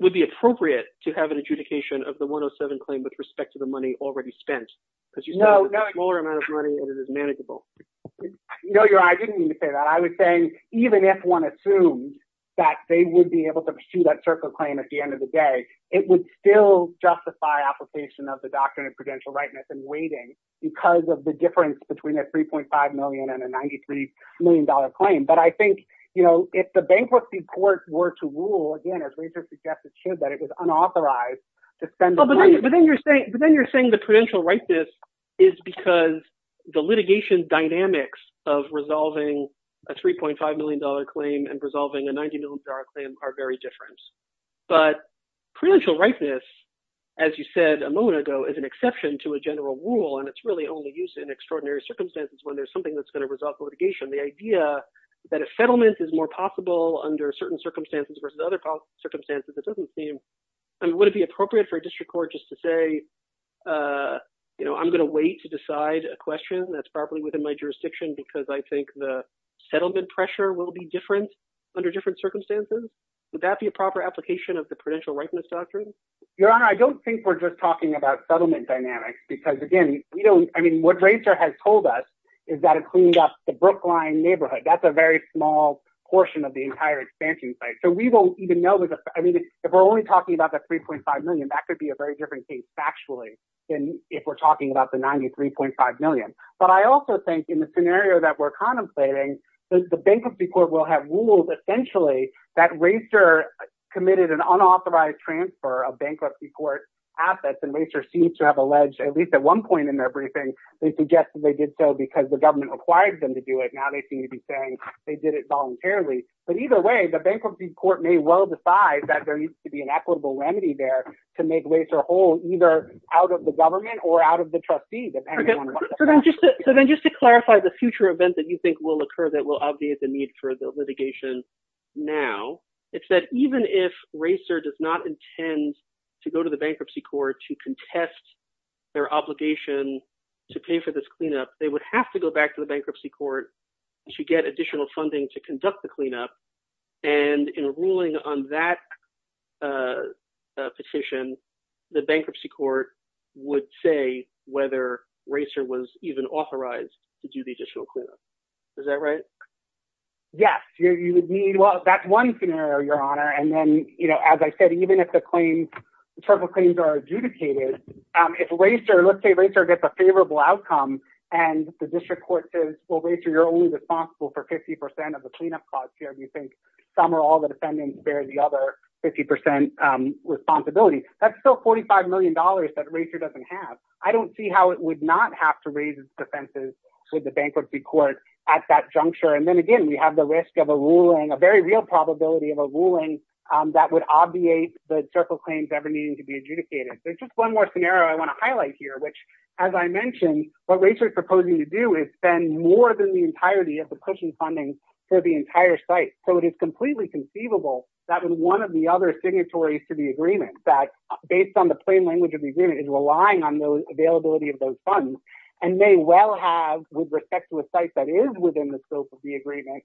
would be appropriate to have an adjudication of the one oh seven claim with respect to the money already spent. No, no. Because you said there's a smaller amount of money and it is manageable. No, Your Honor, I didn't mean to that they would be able to pursue that circle claim at the end of the day. It would still justify application of the doctrine of prudential rightness and waiting because of the difference between a three point five million and a ninety three million dollar claim. But I think, you know, if the bankruptcy court were to rule again, as racer suggested, that it is unauthorized to spend. But then you're saying the prudential rightness is because the litigation dynamics of resolving a three point five million dollar claim and resolving a ninety million dollar claim are very different. But prudential rightness, as you said a moment ago, is an exception to a general rule. And it's really only used in extraordinary circumstances when there's something that's going to result litigation. The idea that a settlement is more possible under certain circumstances versus other circumstances, it doesn't seem. I mean, would it be appropriate for a district court just to say, you know, I'm going to wait to decide a question that's within my jurisdiction because I think the settlement pressure will be different under different circumstances. Would that be a proper application of the prudential rightness doctrine? Your Honor, I don't think we're just talking about settlement dynamics because, again, you know, I mean, what Rachel has told us is that it cleaned up the Brookline neighborhood. That's a very small portion of the entire expansion site. So we don't even know. I mean, if we're only talking about the three point five million, that could be a very different factually than if we're talking about the ninety three point five million. But I also think in the scenario that we're contemplating, the bankruptcy court will have rules essentially that racer committed an unauthorized transfer of bankruptcy court assets and racer seems to have alleged, at least at one point in their briefing, they suggested they did so because the government required them to do it. Now they seem to be saying they did it voluntarily. But either way, the bankruptcy court may well decide that there are either out of the government or out of the trustee. So then just to clarify the future event that you think will occur that will obviate the need for the litigation now, it's that even if racer does not intend to go to the bankruptcy court to contest their obligation to pay for this cleanup, they would have to go back to the bankruptcy court to get additional funding to bankruptcy court would say whether racer was even authorized to do the additional cleanup. Is that right? Yes, you would need. Well, that's one scenario, Your Honor. And then, as I said, even if the claims are adjudicated, if racer, let's say racer gets a favorable outcome and the district court says, well, you're only responsible for 50 percent of the cleanup costs here. We think some or all the defendants bear the other 50 percent responsibility. That's still forty five million dollars that racer doesn't have. I don't see how it would not have to raise its defenses to the bankruptcy court at that juncture. And then again, we have the risk of a ruling, a very real probability of a ruling that would obviate the circle claims ever needing to be adjudicated. There's just one more scenario I want to highlight here, which, as I mentioned, what we are proposing to do is spend more than the entirety of the pushing funding for the entire site. So it is completely conceivable that one of the other signatories to the agreement that based on the plain language of the agreement is relying on the availability of those funds and may well have, with respect to a site that is within the scope of the agreement,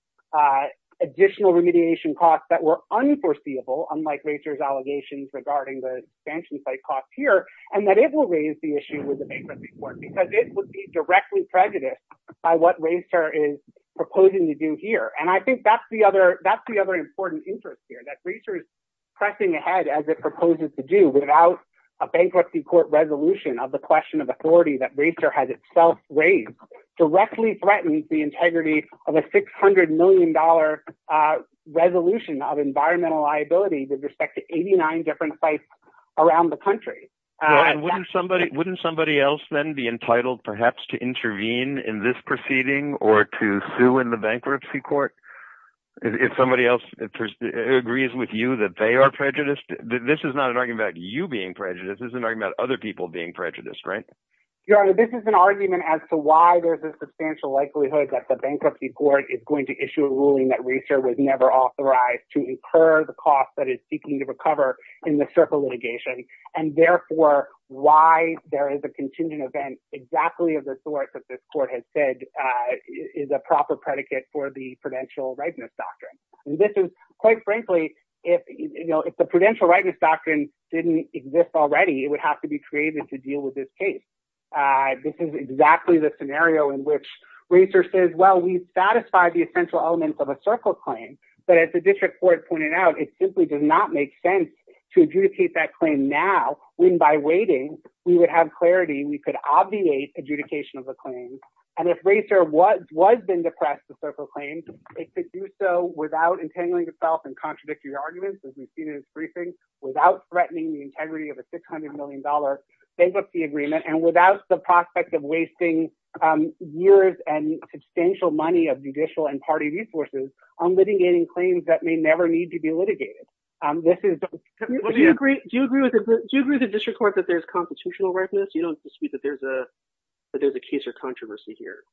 additional remediation costs that were unforeseeable, unlike racer's allegations regarding the expansion site costs here, and that it will raise the issue with the bankruptcy court because it would be directly prejudiced by what racer is proposing to do here. And I think that's the other important interest here, that racer is pressing ahead as it proposes to do without a bankruptcy court resolution of the question of authority that racer has itself raised directly threatens the integrity of a $600 million resolution of environmental liability with respect to 89 different sites around the country. Wouldn't somebody else then be entitled perhaps to intervene in this proceeding or to sue in the bankruptcy court if somebody else agrees with you that they are prejudiced? This is not an argument about you being prejudiced. This is an argument about other people being prejudiced, right? Your Honor, this is an argument as to why there's a substantial likelihood that the bankruptcy court is going to issue a ruling that racer was never authorized to incur the cost that it's seeking to recover in the circle litigation, and therefore, why there is a contingent event exactly of the sort that this court has said is a proper predicate for the prudential rightness doctrine. And this is, quite frankly, if the prudential rightness doctrine didn't exist already, it would have to be created to deal with this case. This is exactly the scenario in which racer says, well, we've satisfied the essential elements of a circle claim, but as the district court pointed out, it simply did not make sense to adjudicate that claim now, when by waiting, we would have clarity, we could obviate adjudication of a claim. And if racer was been depressed to circle claims, they could do so without entangling themselves in contradictory arguments, as we've seen in this briefing, without threatening the integrity of a $600 million bankruptcy agreement, and without the prospect of wasting years and substantial money of judicial and party resources on litigating claims that may never need to be adjudicated. Do you agree with the district court that there's constitutional rightness? You don't dispute that there's a case of controversy here,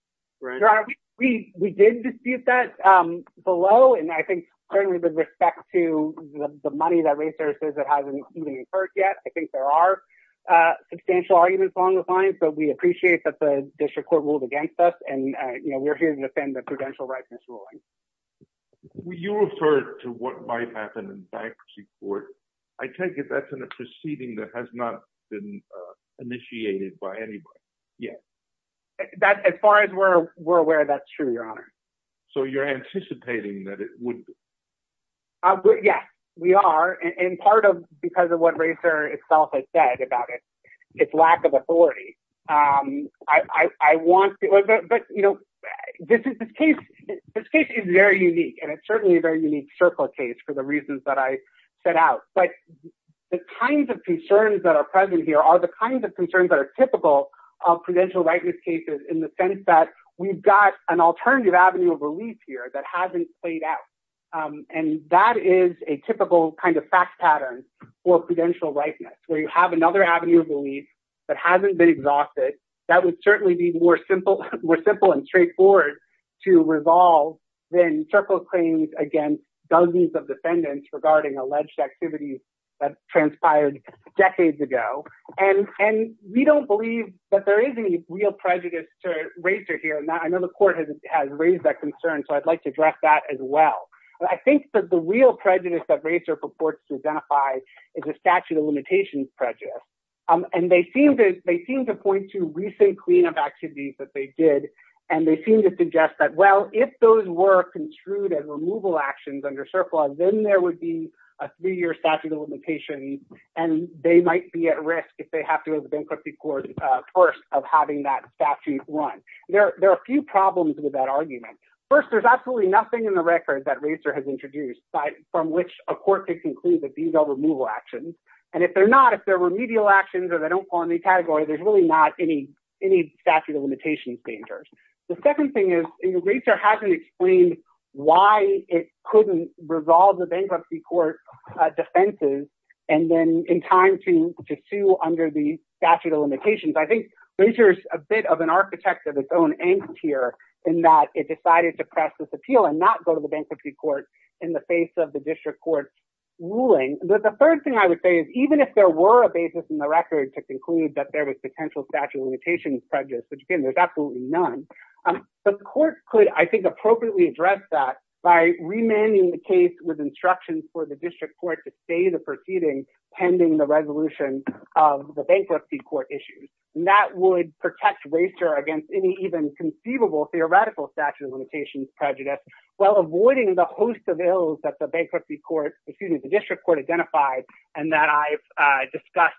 right? We did dispute that below. And I think certainly with respect to the money that racer says that hasn't been incurred yet, I think there are substantial arguments along the line. So we appreciate that the district court ruled against us. And we're here to defend the prudential rightness ruling. You referred to what might happen in bankruptcy court. I take it that's in a proceeding that has not been initiated by anybody? Yes. As far as we're aware, that's true, Your Honor. So you're anticipating that it would be? Yes, we are. And part of because of what racer itself has said about its lack of authority. But this case is very unique. And it's certainly a very unique circle case for the reasons that I set out. But the kinds of concerns that are present here are the kinds of concerns that are typical of prudential rightness cases in the sense that we've got an alternative avenue of relief here that hasn't played out. And that is a typical kind of fact pattern for prudential rightness, where you have another avenue of relief that hasn't been exhausted. That would certainly be more simple and straightforward to resolve than circle claims against dozens of defendants regarding alleged activities that transpired decades ago. And we don't believe that there is any real prejudice to racer here. And I know the court has raised that concern. So I'd like to address that as well. But I think that the real prejudice that racer purports to identify is a statute of limitations prejudice. And they seem to point to recent cleanup activities that they did. And they seem to suggest that, well, if those were construed as removal actions under a three-year statute of limitations, and they might be at risk if they have to go to bankruptcy court first of having that statute run. There are a few problems with that argument. First, there's absolutely nothing in the record that racer has introduced from which a court could conclude that these are removal actions. And if they're not, if they're remedial actions or they don't fall in the category, there's really not any statute of limitations dangers. The second thing is racer hasn't explained why it couldn't resolve the bankruptcy court defenses. And then in time to sue under the statute of limitations, I think racer is a bit of an architect of its own angst here in that it decided to press this appeal and not go to the bankruptcy court in the face of the district court ruling. But the third thing I would say is even if there were a basis in the record to conclude that there is potential statute of limitations prejudice, which again, there's none, the court could, I think, appropriately address that by remanding the case with instructions for the district court to stay the proceeding pending the resolution of the bankruptcy court issues. And that would protect racer against any even conceivable theoretical statute of limitations prejudice while avoiding the host of ills that the bankruptcy court, excuse me, the district court identified and that I've discussed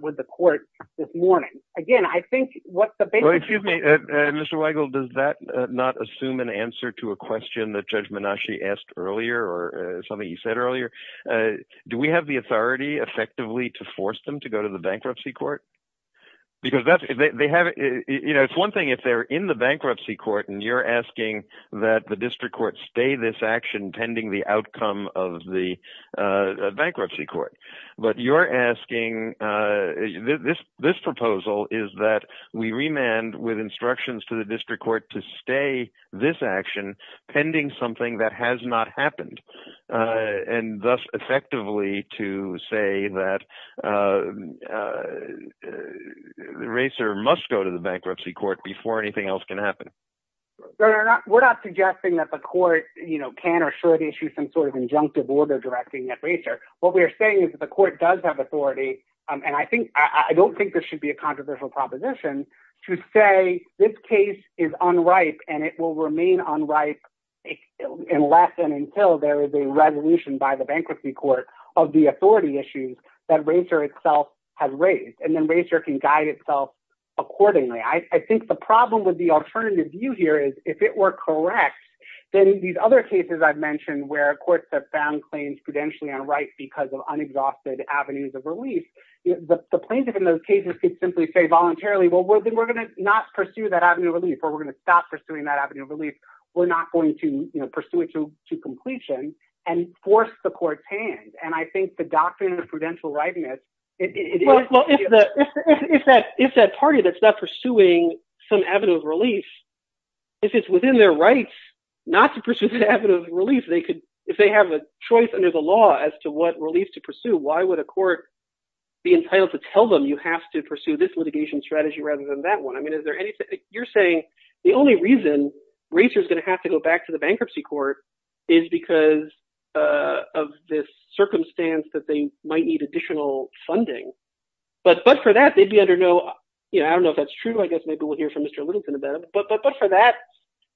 with the court this morning. Again, I think what the- Excuse me, Mr. Weigel, does that not assume an answer to a question that Judge Menasci asked earlier or something you said earlier? Do we have the authority effectively to force them to go to the bankruptcy court? Because that's, they have, you know, it's one thing if they're in the bankruptcy court and you're asking that the district court stay this action pending the outcome of the bankruptcy court. But if you're asking, this proposal is that we remand with instructions to the district court to stay this action pending something that has not happened. And thus effectively to say that the racer must go to the bankruptcy court before anything else can happen. We're not suggesting that the court, you know, can or should issue some sort of authority. And I think, I don't think there should be a controversial proposition to say this case is unripe and it will remain unripe unless and until there is a resolution by the bankruptcy court of the authority issues that racer itself has raised. And then racer can guide itself accordingly. I think the problem with the alternative view here is if it were correct, then these other cases I've mentioned where courts have found claims prudentially unripe because of unexhausted avenues of relief. The plaintiff in those cases could simply say voluntarily, well, we're going to not pursue that avenue of relief, or we're going to stop pursuing that avenue of relief. We're not going to pursue it to completion and force the court's hands. And I think the doctrine of prudential rightness, it is- Well, if that party that's not pursuing some avenue of relief, if it's within their rights not to pursue the avenue of relief, if they have a choice under the law as to what relief to pursue, why would a court be entitled to tell them you have to pursue this litigation strategy rather than that one? I mean, is there any- You're saying the only reason racers are going to have to go back to the bankruptcy court is because of this circumstance that they might need additional funding. But for that, they'd be under no- I don't know if that's true. I guess maybe we'll hear from Mr. Littleton about that. But for that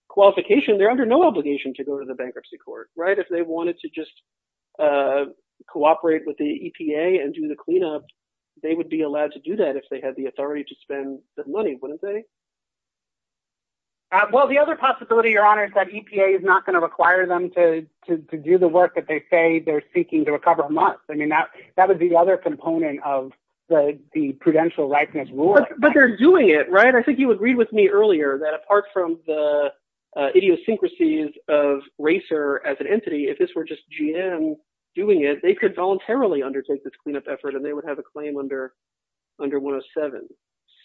qualification, they're under no obligation to go to the bankruptcy court. If they wanted to just cooperate with the EPA and do the cleanup, they would be allowed to do that if they had the authority to spend the money, wouldn't they? Well, the other possibility, Your Honor, is that EPA is not going to require them to do the work that they say they're seeking to recover must. I mean, that would be the other component of the prudential rightness rule. But they're doing it, right? I think you agreed with me earlier that apart from the idiosyncrasies of racer as an entity, if this were just GM doing it, they could voluntarily undertake this cleanup effort and they would have a claim under 107.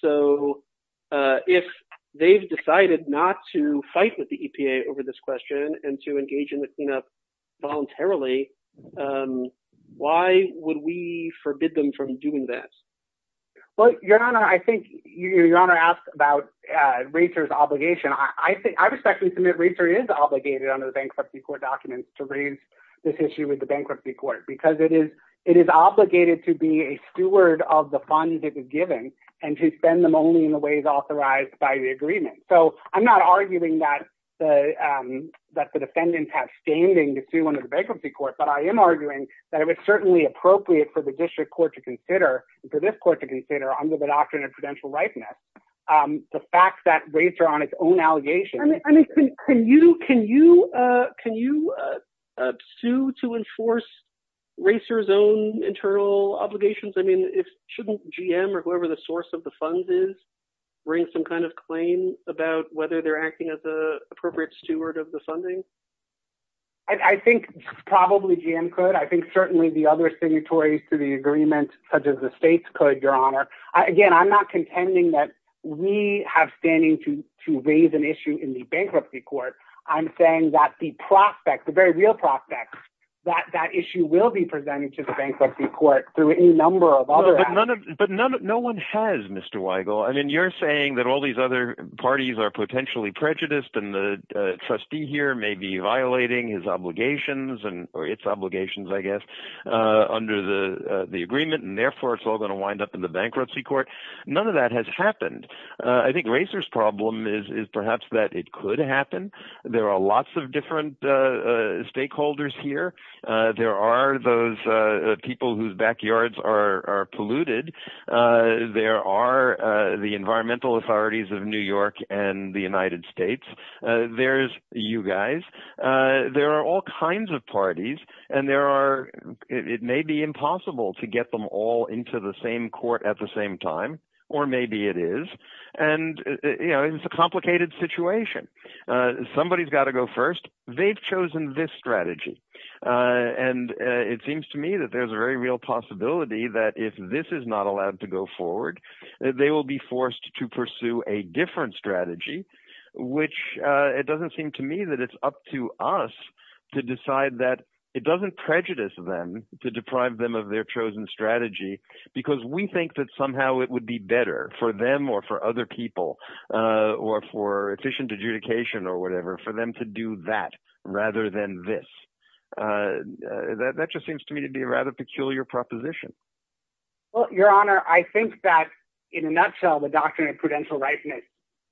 So if they've decided not to fight with the EPA over this question and to engage in the cleanup voluntarily, why would we forbid them from doing this? Well, Your Honor, I think Your Honor asked about racer's obligation. I respectfully submit racer is obligated under the bankruptcy court documents to raise this issue with the bankruptcy court because it is obligated to be a steward of the funds it is giving and to spend them only in the ways authorized by the agreement. So I'm not standing to sue under the bankruptcy court, but I am arguing that it's certainly appropriate for the district court to consider and for this court to consider under the doctrine of prudential rightness the fact that racer on its own allegations. I mean, can you sue to enforce racer's own internal obligations? I mean, shouldn't GM or whoever the source of the funds is bring some kind of claim about whether they're acting as the appropriate steward of the funding? I think probably GM could. I think certainly the other signatories to the agreement such as the states could, Your Honor. Again, I'm not contending that we have standing to raise an issue in the bankruptcy court. I'm saying that the prospect, the very real prospect, that that issue will be presented to the bankruptcy court through a number of other... But no one has, Mr. Weigel. I mean, you're saying that all these other parties are potentially prejudiced and the trustee here may be violating his obligations or its obligations, I guess, under the agreement and therefore it's all going to wind up in the bankruptcy court. None of that has happened. I think racer's problem is perhaps that it could happen. There are lots of different stakeholders here. There are those people whose backyards are polluted. There are the environmental authorities of New York and the United States. There's you guys. There are all kinds of parties and it may be impossible to get them all into the same court at the same time or maybe it is. It's a complicated situation. Somebody's got to go first. They've chosen this strategy and it seems to me that there's a very real possibility that if this is not allowed to go forward, they will be forced to pursue a different strategy, which it doesn't seem to me that it's up to us to decide that. It doesn't prejudice them to deprive them of their chosen strategy because we think that somehow it would be better for them or for other people or for efficient adjudication or whatever for them to do that rather than this. That just seems to me to be a rather peculiar proposition. Well, your honor, I think that in a nutshell, the doctrine of prudential rightness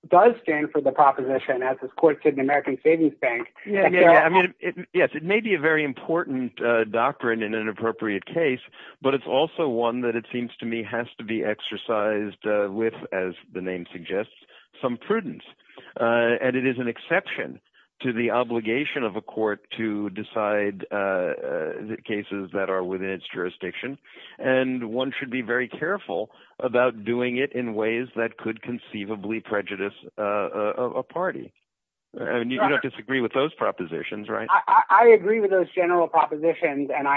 does stand for the proposition as a court to the American Savings Bank. Yes, it may be a very important doctrine in an appropriate case, but it's also one that it seems to me has to be exercised with, as the name suggests, some prudence and it is an exception to the obligation of a court to and one should be very careful about doing it in ways that could conceivably prejudice a party. And you don't disagree with those propositions, right? I agree with those general propositions and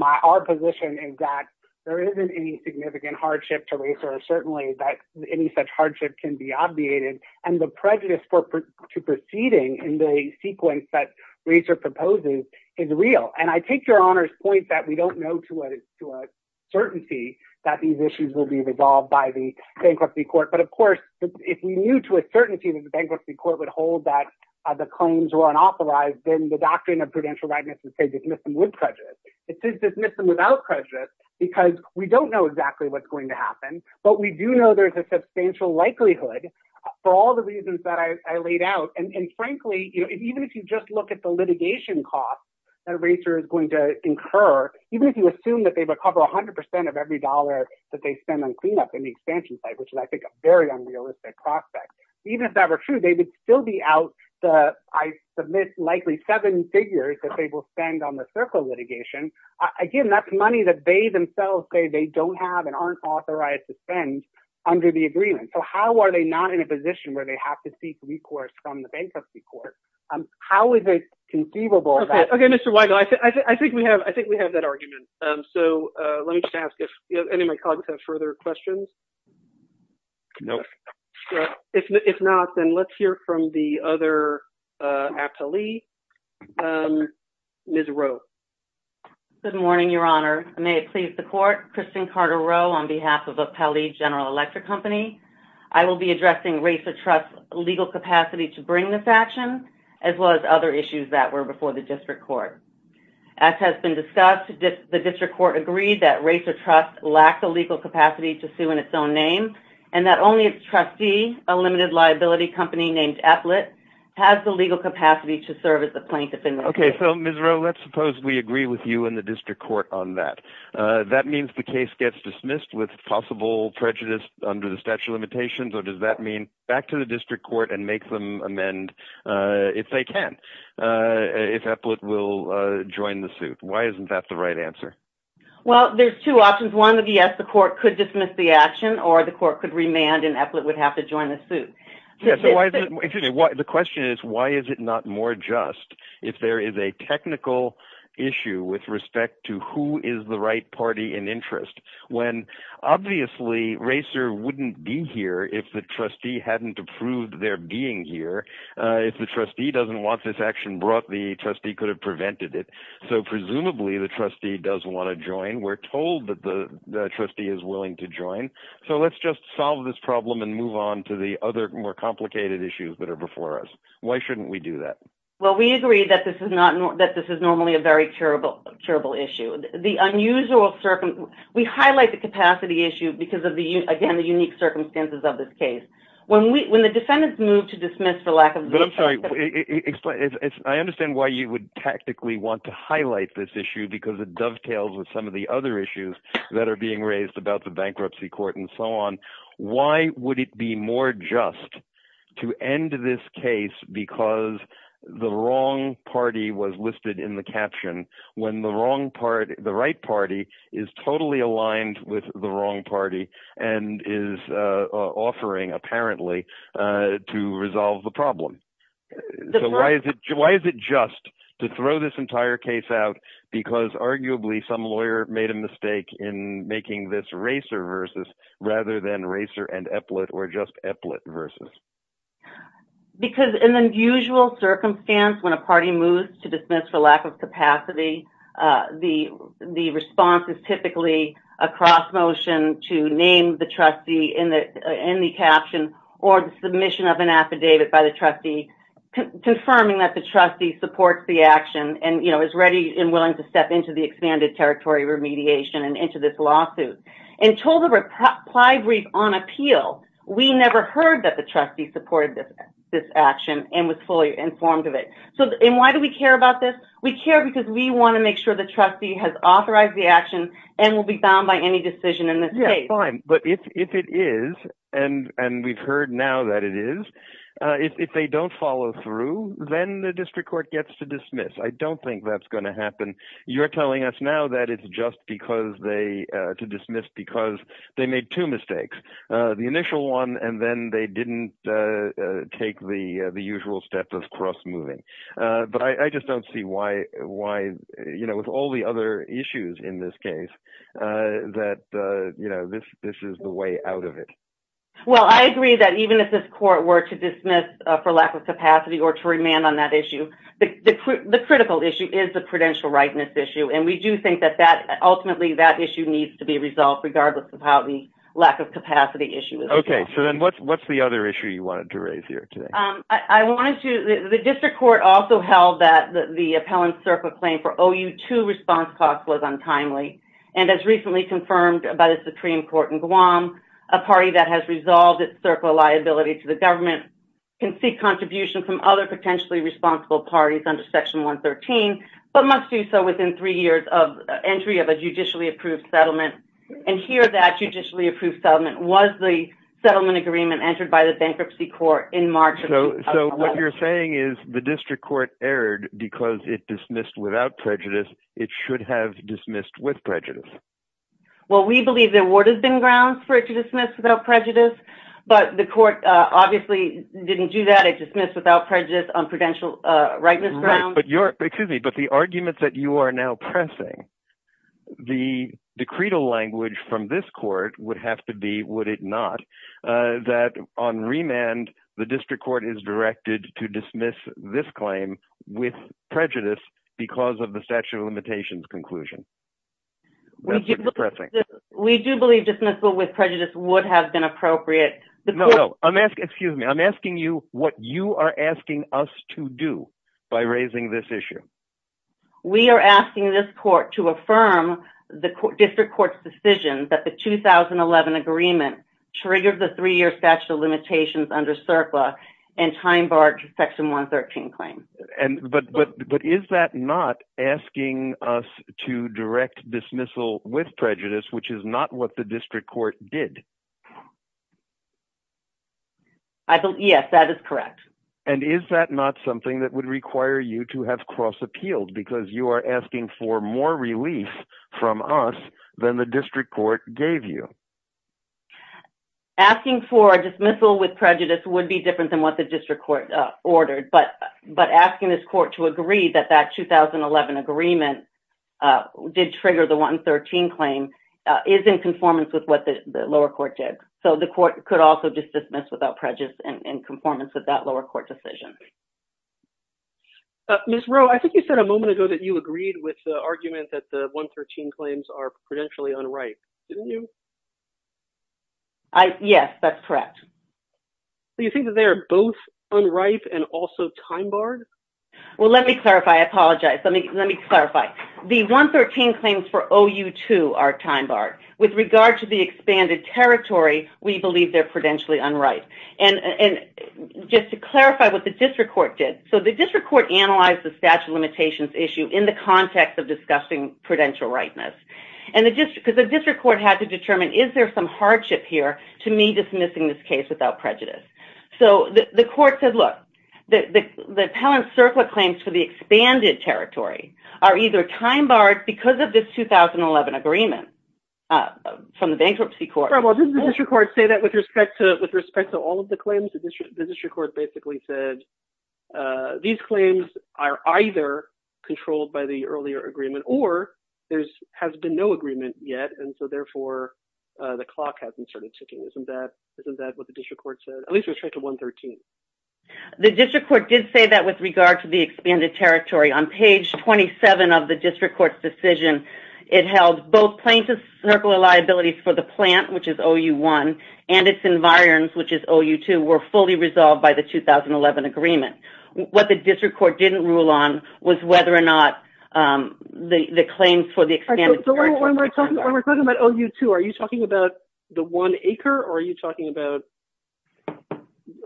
our position is that there isn't any significant hardship to race or certainly that any such hardship can be obviated and the prejudice to proceeding in the sequence that I take your honors point that we don't know to a certainty that these issues will be resolved by the bankruptcy court. But of course, if we knew to a certainty that the bankruptcy court would hold that the claims were unauthorized, then the doctrine of prudential rightness would say dismiss them with prejudice. It says dismiss them without prejudice because we don't know exactly what's going to happen, but we do know there's a substantial likelihood for all the reasons that I incur, even if you assume that they recover a hundred percent of every dollar that they spend on cleanup in the expansion site, which is, I think, a very unrealistic prospect. Even if that were true, they would still be out. I submit likely seven figures that they will spend on the circle litigation. Again, that's money that they themselves say they don't have and aren't authorized to spend under the agreement. So how are they not in a position where they have to request from the bankruptcy court? How is it conceivable? Okay, Mr. Weigel, I think we have that argument. So let me just ask if any of my colleagues have further questions? No. If not, then let's hear from the other appellee. Ms. Rowe. Good morning, your honor. May it please the court, Kristin Carter Rowe on behalf of Appellee General Electric Company. I will be addressing Racer Trust's legal capacity to bring this action, as well as other issues that were before the district court. As has been discussed, the district court agreed that Racer Trust lacked the legal capacity to sue in its own name, and that only its trustee, a limited liability company named Ethlet, has the legal capacity to serve as a plaintiff in this case. Okay, so Ms. Rowe, let's suppose we agree with you and the prejudice under the statute of limitations, or does that mean back to the district court and make them amend, if they can, if Ethlet will join the suit? Why isn't that the right answer? Well, there's two options. One would be yes, the court could dismiss the action, or the court could remand and Ethlet would have to join the suit. The question is, why is it not more just if there is a technical issue with respect to who is the party in interest? Obviously, Racer wouldn't be here if the trustee hadn't approved their being here. If the trustee doesn't want this action brought, the trustee could have prevented it. So presumably, the trustee does want to join. We're told that the trustee is willing to join. So let's just solve this problem and move on to the other more complicated issues that are before us. Why shouldn't we do that? Well, we agree that this is normally a terrible issue. We highlight the capacity issue because of the unique circumstances of this case. When the defendants move to dismiss the lack of... I understand why you would tactically want to highlight this issue because it dovetails with some of the other issues that are being raised about the bankruptcy court and so on. Why would it be more just to end this case because the wrong party was listed in the caption when the right party is totally aligned with the wrong party and is offering, apparently, to resolve the problem? Why is it just to throw this entire case out because arguably some lawyer made a mistake in making this racer versus rather than racer and epaulette or just epaulette versus? Because in the usual circumstance, when a party moves to dismiss the lack of capacity, the response is typically a cross motion to name the trustee in the caption or the submission of an affidavit by the trustee confirming that the trustee supports the action and is ready and expanded territory remediation and into this lawsuit. Until the reply brief on appeal, we never heard that the trustee supported this action and was fully informed of it. Why do we care about this? We care because we want to make sure the trustee has authorized the action and will be bound by any decision in this case. Fine, but if it is and we've heard now that it is, if they don't follow through, then the district court gets to dismiss. I don't think that's going to happen. You're telling us now that it's just because they, to dismiss because they made two mistakes, the initial one, and then they didn't take the usual step of cross moving. But I just don't see why, you know, with all the other issues in this case that, you know, this is the way out of it. Well, I agree that even if this court were to dismiss for lack of capacity or to remand on that issue, the critical issue is the prudential rightness issue. And we do think that ultimately that issue needs to be resolved regardless of how the lack of capacity issue is. Okay, so then what's the other issue you wanted to raise here today? I wanted to, the district court also held that the appellant circle claim for OU2 response costs was untimely. And as recently confirmed by the Supreme Court in Guam, a party that has resolved its circle liability to the government can seek contribution from other potentially responsible parties under section 113, but must do so within three years of entry of a judicially approved settlement. And here, that judicially approved settlement was the settlement agreement entered by the bankruptcy court in March of 2011. So what you're saying is the district court erred because it dismissed without prejudice. It should have dismissed with prejudice. Well, we believe there would have been grounds for it to dismiss without prejudice, but the court obviously didn't do that. It dismissed without prejudice on prudential rightness grounds. But you're, excuse me, but the argument that you are now pressing, the decretal language from this court would have to be, would it not, that on remand, the district court is directed to dismiss this claim with prejudice because of dismissal with prejudice would have been appropriate. No, no, I'm asking, excuse me, I'm asking you what you are asking us to do by raising this issue. We are asking this court to affirm the district court's decision that the 2011 agreement triggered the three-year statute of limitations under SERPA and time barred section 113 claims. And, but, but, but is that not asking us to direct dismissal with prejudice, which is not what the district court did? I believe, yes, that is correct. And is that not something that would require you to have cross appealed because you are asking for more relief from us than the district court gave you? Asking for dismissal with prejudice would be different than what the district court ordered, but, but asking this court to agree that that 2011 agreement did trigger the 113 claim is in conformance with what the lower court did. So the court could also just dismiss without prejudice in conformance with that lower court decision. Ms. Rowe, I think you said a moment ago that you agreed with the argument that the 113 claims are correct. Do you think that they are both unright and also time barred? Well, let me clarify. I apologize. Let me, let me clarify. The 113 claims for OU2 are time barred. With regard to the expanded territory, we believe they are prudentially unright. And, and just to clarify what the district court did. So the district court analyzed the statute of limitations issue in the context of discussing prudential rightness. And the district, because the district court had to determine, is there some hardship here to me dismissing this case without prejudice? So the court said, look, the, the, the Palancirpa claims for the expanded territory are either time barred because of this 2011 agreement from the bankruptcy court. Well, didn't the district court say that with respect to, with respect to all of the claims, the district court basically said these claims are either controlled by the earlier agreement or there's, has been no agreement yet. And so therefore the clock hasn't started ticking. Isn't that, isn't that what the district court said? At least with respect to 113. The district court did say that with regard to the expanded territory. On page 27 of the district court's decision, it held both plaintiff's circular liabilities for the plant, which is OU1 and its environs, which is OU2 were fully resolved by the 2011 agreement. What the district court didn't rule on was whether or not, um, the, the claims for the expanded territory. So when we're talking about OU2, are you talking about the one acre or are you talking about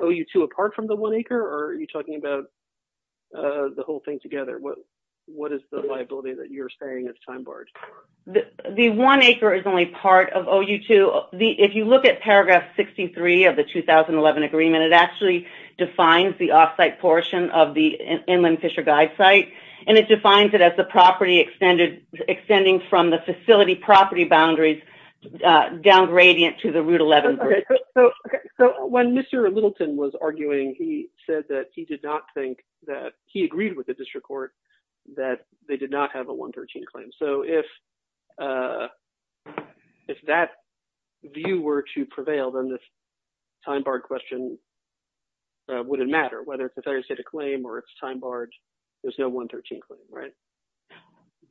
OU2 apart from the one acre? Or are you talking about, uh, the whole thing together? What, what is the liability that you're saying is time barred? The one acre is only part of OU2. The, if you look at paragraph 63 of the 2011 agreement, it actually defines the offsite portion of the Inland Fisher Guide site. And it defines it as the property extended, extending from the facility property boundaries, uh, down gradient to the route 11. Okay. So when Mr. Littleton was arguing, he said that he did not think that he agreed with the district court that they did not have a 113 claim. So if, uh, if that view were to prevail, then this time barred question, uh, wouldn't matter whether it's a claim or it's time barred, there's no 113 claim, right?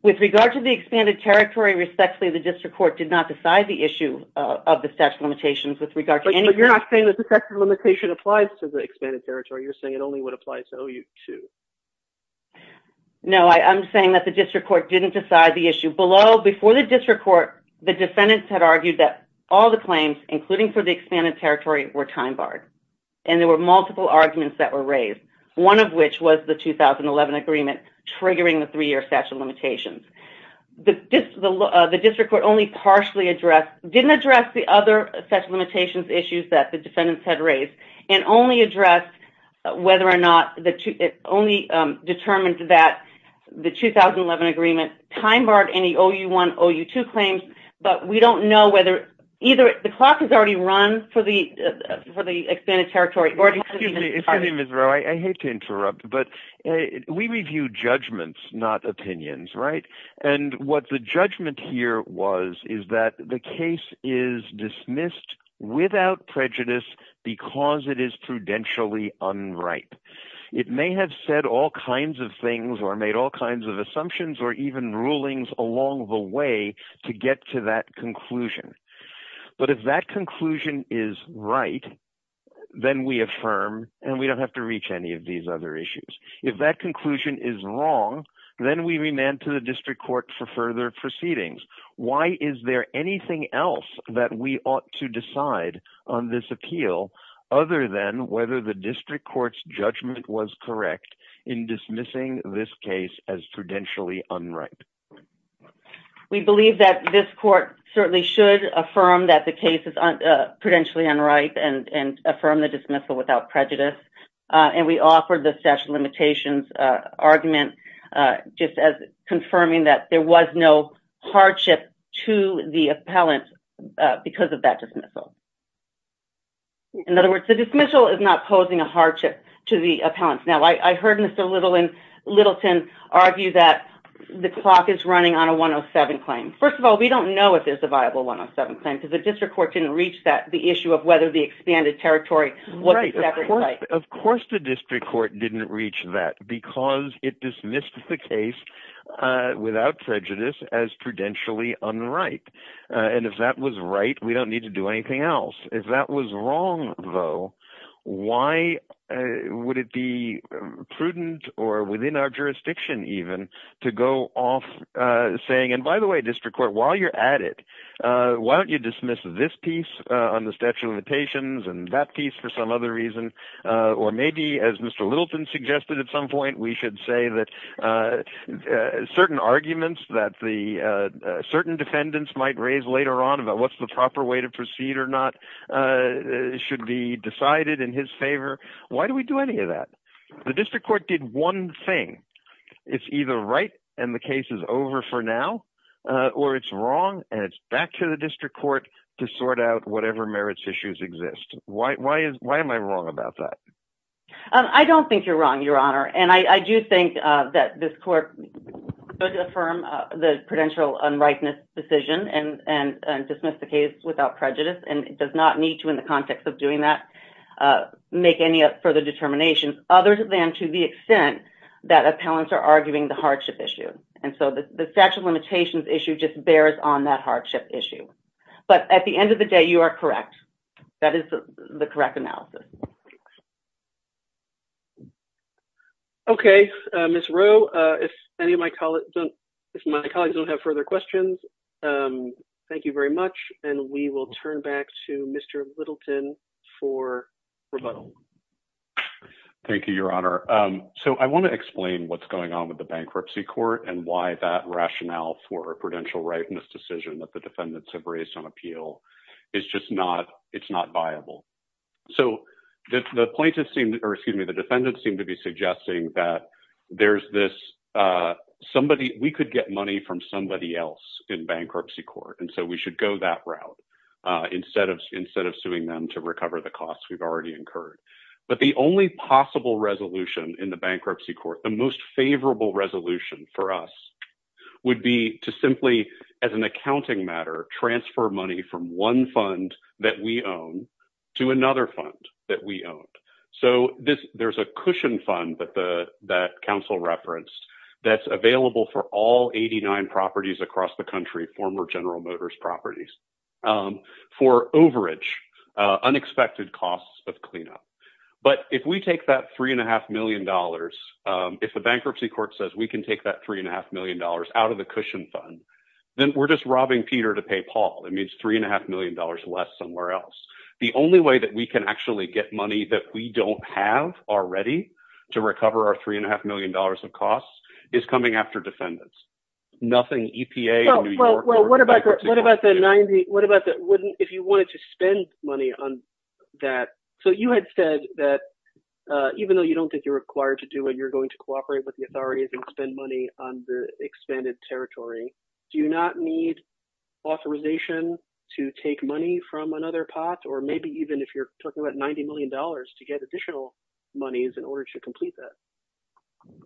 With regard to the expanded territory, respectfully, the district court did not decide the issue of the statute of limitations with regard to any... So you're not saying that the statute of limitation applies to the expanded territory. You're saying it only would apply to OU2. No, I, I'm saying that the district court didn't decide the issue. Below, before the district court, the defendants had argued that all the claims, including for the expanded territory, were time barred. And there were multiple arguments that were raised. One of which was the 2011 agreement triggering the three-year statute of limitations. The district court only partially addressed, didn't address the other statute of limitations issues that the defendants had raised, and only addressed whether or not the two, it only, um, determined that the 2011 agreement time barred any OU1, OU2 claims, but we don't know whether either the clock has already run for the, uh, for the expanded territory. Excuse me, Ms. Rowe, I hate to interrupt, but we review judgments, not opinions, right? And what the judgment here was, is that the case is dismissed without prejudice because it is prudentially unright. It may have said all kinds of things or made all kinds of assumptions or even rulings along the way to get to that conclusion. But if that conclusion is right, then we affirm and we don't have to reach any of these other issues. If that conclusion is wrong, then we remand to the district court for further proceedings. Why is there anything else that we ought to decide on this appeal, other than whether the district court's judgment was correct in dismissing this case as prudentially unright? We believe that this court certainly should affirm that the case is, uh, prudentially unright and, and affirm the dismissal without prejudice. Uh, and we offered the statute of limitations, uh, argument, uh, just as confirming that there was no hardship to the appellant, uh, because of that dismissal. In other words, the dismissal is not posing a hardship to the appellant. Now, I heard Mr. Littleton argue that the clock is running on a 107 claim. First of all, we don't know if there's a viable 107 claim because the district court didn't reach that, the issue of whether the expanded territory was exactly right. Of course, the district court didn't reach that because it dismissed the case, uh, without prejudice as prudentially unright. Uh, and if that was right, we don't need to do anything else. If that was wrong though, why would it be prudent or within our jurisdiction even to go off, uh, saying, and by the way, district court, while you're at it, uh, why don't you dismiss this piece on the statute of limitations and that piece for some other reason, uh, or maybe as Mr. Littleton suggested at some point, we should say that, uh, certain arguments that the, uh, certain defendants might raise later on about what's the proper way to proceed or not, uh, should be decided in his favor. Why do we do any of that? The district court did one thing. It's either right and the case is over for now, uh, or it's wrong and it's back to the district court to sort out whatever merits issues exist. Why, why is, why am I wrong about that? Um, I don't think you're wrong, Your Honor. And I, I do think, uh, that this court could affirm, uh, the prudential unrightness decision and, and, and dismiss the case without prejudice. And it does not need to in the context of doing that, uh, make any further determinations other than to the extent that appellants are arguing the hardship issue. And so the statute of limitations issue just bears on that hardship issue. But at the end of the day, you are correct. That is the correct analysis. Okay. Uh, Ms. Rowe, uh, if any of my colleagues don't, if my colleagues don't have further questions, um, thank you very much. And we will turn back to Mr. Littleton for rebuttal. Thank you, Your Honor. Um, so I want to explain what's going on with the bankruptcy court and why that rationale for prudential rightness decision that the defendants have raised on appeal is just not, it's not viable. So the plaintiffs seem, or excuse me, the defendants seem to be suggesting that there's this, uh, somebody, we could get money from somebody else in bankruptcy court. And so we should go that route, uh, instead of, instead of suing them to recover the costs we've already incurred. But the only possible resolution in the bankruptcy court, the most favorable resolution for us would be to simply, as an accounting matter, transfer money from one fund that we own to another fund that we own. So this, there's a cushion fund that the, that counsel referenced that's available for all 89 properties across the country, former General Motors properties, um, for overage, uh, unexpected costs of cleanup. But if we take that three and a half million dollars, um, if the bankruptcy court says we can take that three and a half million dollars out of the cushion fund, then we're just robbing Peter to pay Paul. It means three and a half million dollars less somewhere else. The only way that we can actually get money that we don't have already to recover our three and a half million dollars of costs is coming after defendants. Nothing EPA. Well, what about, what about the 90? What about the wouldn't, if you wanted to spend money on that? So you had said that, uh, even though you don't think you're required to do it, you're going to cooperate with the authorities and spend money on the expanded territory. Do you not need authorization to take money from another pot? Or maybe even if you're talking about $90 million to get additional monies in order to complete that.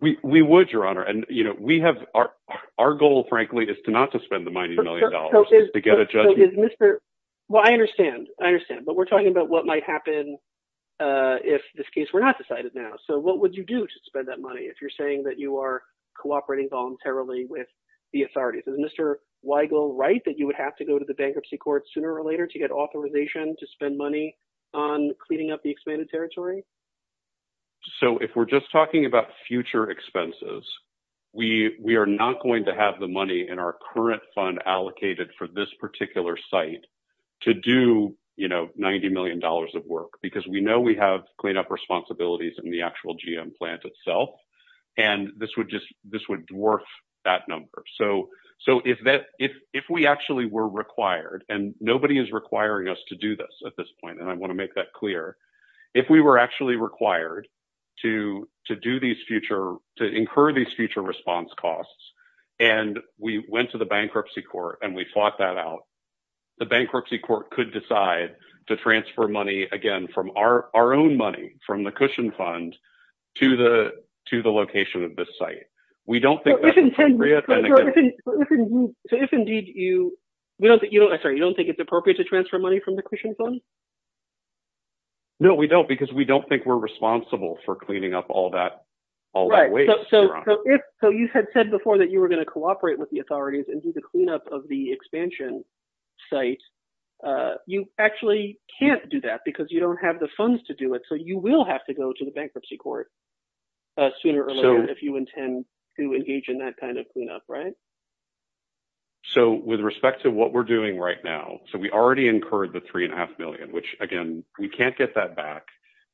We, we would your honor. And you know, we have our, our goal, frankly, is to not to spend the $90 million to get a judgment. Well, I understand. I understand, but we're talking about what might happen. Uh, if this case were not decided now. So what would you do to spend that money? If you're saying that you are cooperating voluntarily with the authorities as Mr. Weigel, right, that you would have to go to the bankruptcy court sooner or later to get authorization, to spend money on cleaning up the expanded territory. So if we're just talking about future expenses, we, we are not going to have the money in our current fund allocated for this particular site to do, you know, $90 million of work because we know we have cleanup responsibilities in the actual GM plant itself. And this would just, this would dwarf that number. So, so if that, if, if we actually were required and nobody is requiring us to do this at this point, and I want to make that clear, if we were actually required to, to do these future, to incur these future response costs, and we went to the bankruptcy court and we fought that out, the bankruptcy court could decide to transfer money again, from our, our own money from the Cushion Fund to the, to the location of this site. We don't think that's appropriate. So if indeed you, we don't think you don't, I'm sorry, you don't think it's appropriate to transfer money from the Cushion Fund? No, we don't, because we don't think we're responsible for cleaning up all that, all that waste. Right. So, so if, so you had said before that you were going to cooperate with the authorities and do the cleanup of the expansion site. You actually can't do that because you don't have the funds to do it. So you will have to go to the bankruptcy court sooner or later if you intend to engage in that kind of cleanup, right? So with respect to what we're doing right now, so we already incurred the $3.5 million. Which again, we can't get that back.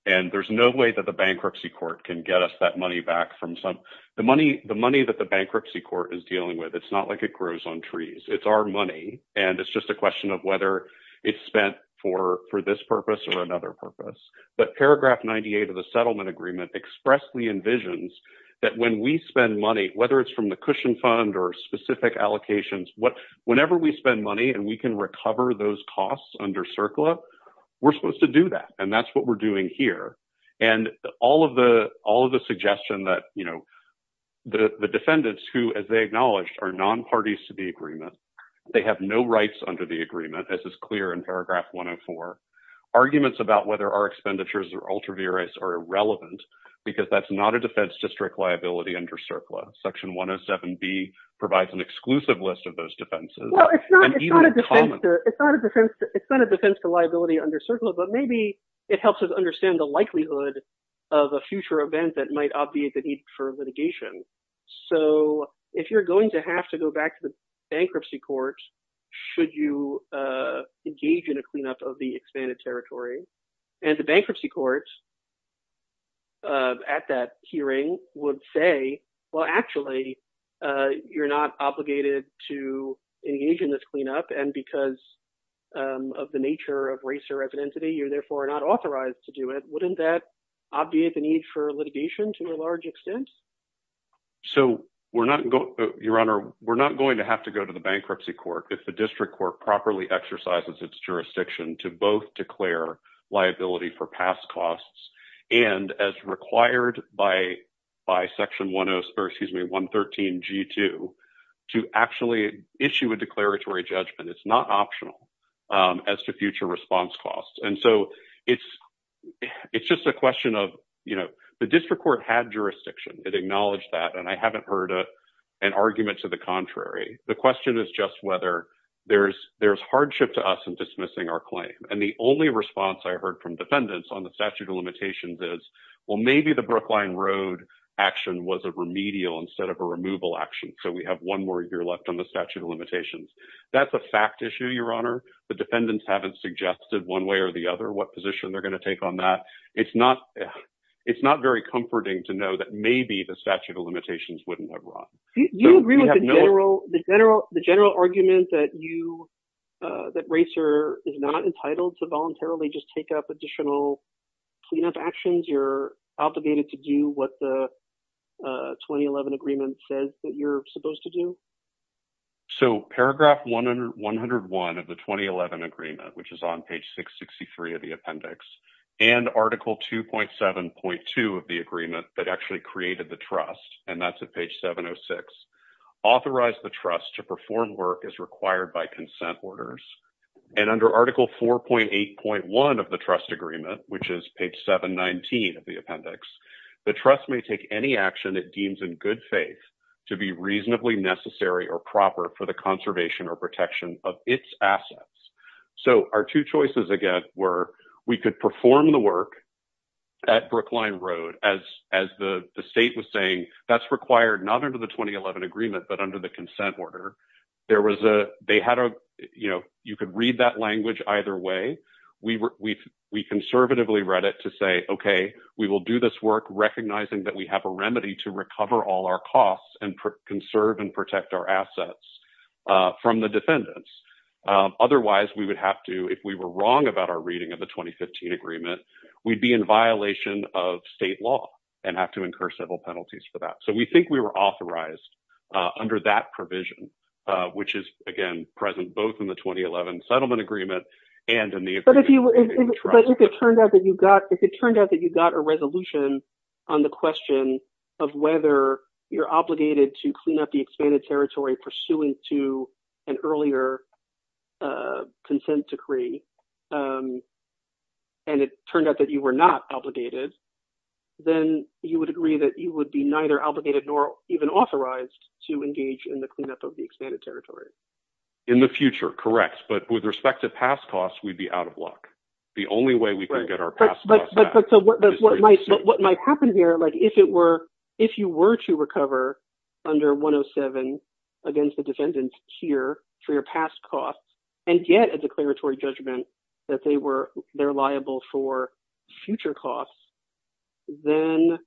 And there's no way that the bankruptcy court can get us that money back from some, the money, the money that the bankruptcy court is dealing with. It's not like it grows on trees. It's our money. And it's just a question of whether it's spent for, for this purpose or another purpose. But paragraph 98 of the settlement agreement expressly envisions that when we spend money, whether it's from the Cushion Fund or specific allocations, whenever we spend money and we can recover those costs under CERCLA, we're supposed to do that. And that's what we're doing here. And all of the, all of the suggestion that, you know, the defendants who, as they acknowledged, are non-parties to the agreement, they have no rights under the agreement, as is clear in paragraph 104. Arguments about whether our expenditures or ultraviarates are irrelevant, because that's not a defense district liability under CERCLA. Section 107B provides an exclusive list of those defenses. Well, it's not, it's not a defense to, it's not a defense, it's not a defense to liability under CERCLA, but maybe it helps us understand the likelihood of a future event that might obviate the need for litigation. So if you're going to have to go back to the bankruptcy court, should you engage in a cleanup of the expanded territory? And the bankruptcy court at that hearing would say, well, actually, you're not obligated to engage in this cleanup. And because of the nature of race or ethnicity, you're therefore not authorized to do it. Wouldn't that obviate the need for litigation to a large extent? So we're not going, Your Honor, we're not going to have to go to the bankruptcy court if the district court properly exercises its jurisdiction to both declare liability for past costs, and as required by Section 113G2, to actually issue a declaratory judgment. It's not optional as to future response costs. And so it's just a question of, you know, the district court had jurisdiction, it acknowledged that, and I haven't heard an argument to the contrary. The question is just whether there's hardship to us in dismissing our claim. And the only response I heard from defendants on the statute of limitations is, well, maybe the Brookline Road action was a remedial instead of a removal action. So we have one more year left on the statute of limitations. That's a fact issue, Your Honor. The defendants haven't suggested one way or the other what position they're going to take on that. It's not very comforting to know that maybe the statute of limitations wouldn't have run. Do you agree with the general argument that RACER is not entitled to voluntarily just take up additional cleanup actions? You're obligated to do what the 2011 agreement says that you're supposed to do? So paragraph 101 of the 2011 agreement, which is on page 663 of the appendix, and article 2.7.2 of the agreement that actually created the trust, and that's at page 706, authorize the trust to perform work as required by consent orders. And under article 4.8.1 of the trust agreement, which is page 719 of the appendix, the trust may take any action it deems in good faith to be reasonably necessary or proper for the conservation or protection of its assets. So our two choices, again, were we could perform the work at Brookline Road, as the state was saying, that's required not under the 2011 agreement, but under the consent order. You could read that language either way. We conservatively read it to say, okay, we will do this work recognizing that we have a remedy to recover all our costs and conserve and protect our assets from the defendants. Otherwise, we would have to, if we were wrong about our reading of the 2015 agreement, we'd be in violation of state law and have to incur civil penalties for that. So we think we were authorized under that provision, which is, again, present both in the 2011 settlement agreement and in the agreement. But if it turned out that you got a resolution on the question of whether you're obligated to clean up the expanded territory pursuant to an earlier consent decree, and it turned out that you were not obligated, then you would agree that you would be neither obligated nor even authorized to engage in the cleanup of the expanded territory. In the future, correct. But with respect to past costs, we'd be out of luck. The only way we can get our past costs back is through a decision. What might happen here, if you were to recover under 107 against the defendants here for your past costs and get a declaratory judgment that they're liable for future costs, then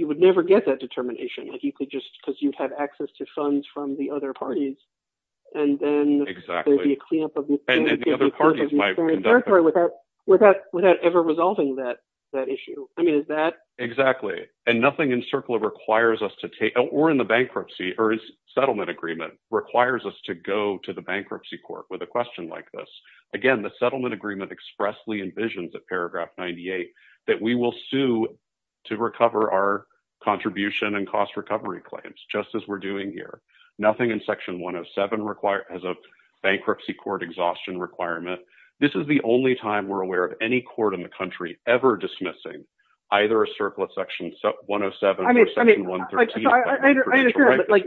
you would never get that determination because you'd have access to funds from the other parties and then there'd be a cleanup of the expanded territory without ever resulting that issue. Exactly. And nothing in CERCLA requires us to take, or in the bankruptcy or its settlement agreement, requires us to go to the bankruptcy court with a question like this. Again, the settlement agreement expressly envisions at paragraph 98 that we will sue to recover our contribution and cost recovery claims, just as we're doing here. Nothing in section 107 has a bankruptcy court exhaustion requirement. This is the only time we're aware of any court in the country ever dismissing either a CERCLA section 107 or section 113. I understand, but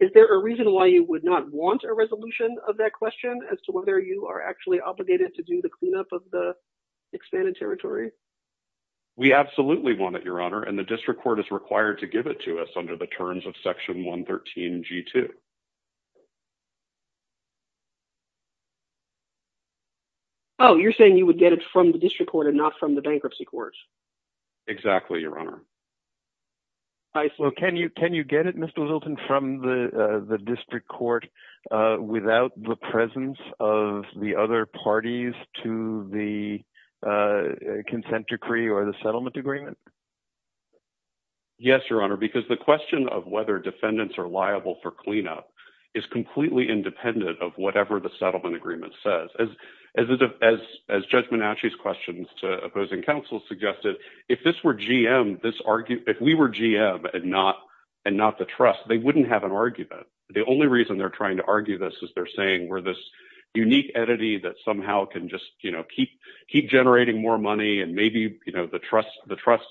is there a reason why you would not want a resolution of that question as to whether you are actually obligated to do the cleanup of the expanded territory? We absolutely want it, Your Honor, and the district court is required to give it to us at the terms of section 113 G2. Oh, you're saying you would get it from the district court and not from the bankruptcy court? Exactly, Your Honor. Well, can you get it, Mr. Wilton, from the district court without the presence of the other parties to the consent decree or the settlement agreement? Yes, Your Honor, because the question of whether defendants are liable for cleanup is completely independent of whatever the settlement agreement says. As Judge Menachie's questions to opposing counsel suggested, if this were GM, if we were GM and not the trust, they wouldn't have an argument. The only reason they're trying to argue this is they're saying we're this unique entity that somehow can just keep generating more money and maybe the trust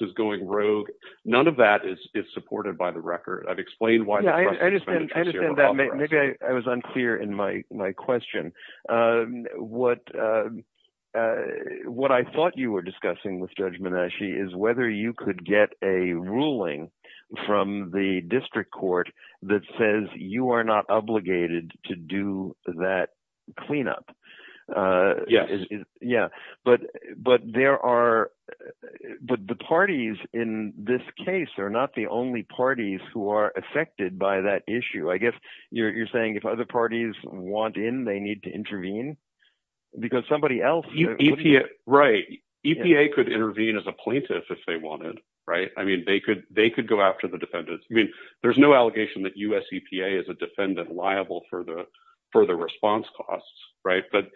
is going rogue. None of that is supported by the record. I've explained why. Maybe I was unclear in my question. What I thought you were discussing with Judge Menachie is whether you could get a ruling from the district court that says you are not obligated to do that cleanup. The parties in this case are not the only parties who are affected by that issue. I guess you're saying if other parties want in, they need to intervene because somebody else... Right. EPA could intervene as a plaintiff if they wanted. They could go after the defendants. There's no allegation that US EPA is a defendant liable for the response costs, but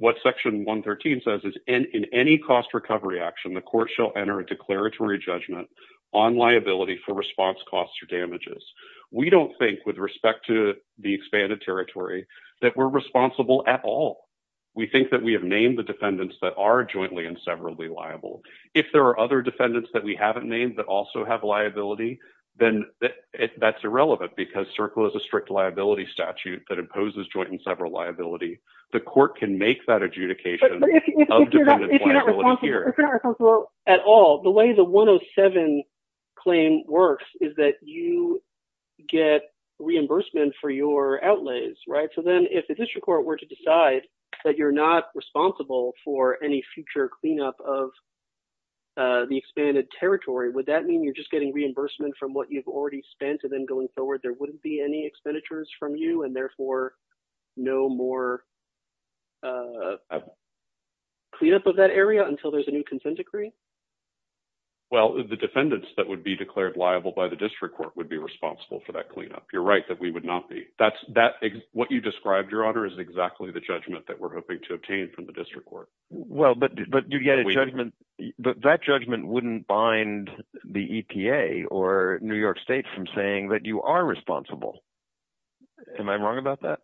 what section 113 says is in any cost recovery action, the court shall enter a declaratory judgment on liability for response costs or damages. We don't think, with respect to the expanded territory, that we're responsible at all. We think that we have named the defendants that are jointly and severally liable. If there are other defendants that we haven't named that also have liability, then that's irrelevant because CERCLA is a strict liability statute that imposes joint and several liability. The court can make that adjudication of defendant liability here. But if you're not responsible at all, the way the 107 claim works is that you get reimbursement for your outlays, right? Then if the district court were to decide that you're not responsible for any future cleanup of the expanded territory, would that mean you're just getting reimbursement from what you've already spent and then going forward there wouldn't be any expenditures from you and therefore no more cleanup of that area until there's a new consent decree? Well, the defendants that would be declared liable by the district court would be responsible for that cleanup. You're right that we would not be. What you described, Your Honor, is exactly the judgment that we're hoping to obtain from the district court. Well, but that judgment wouldn't bind the EPA or New York State from saying that you are responsible. Am I wrong about that?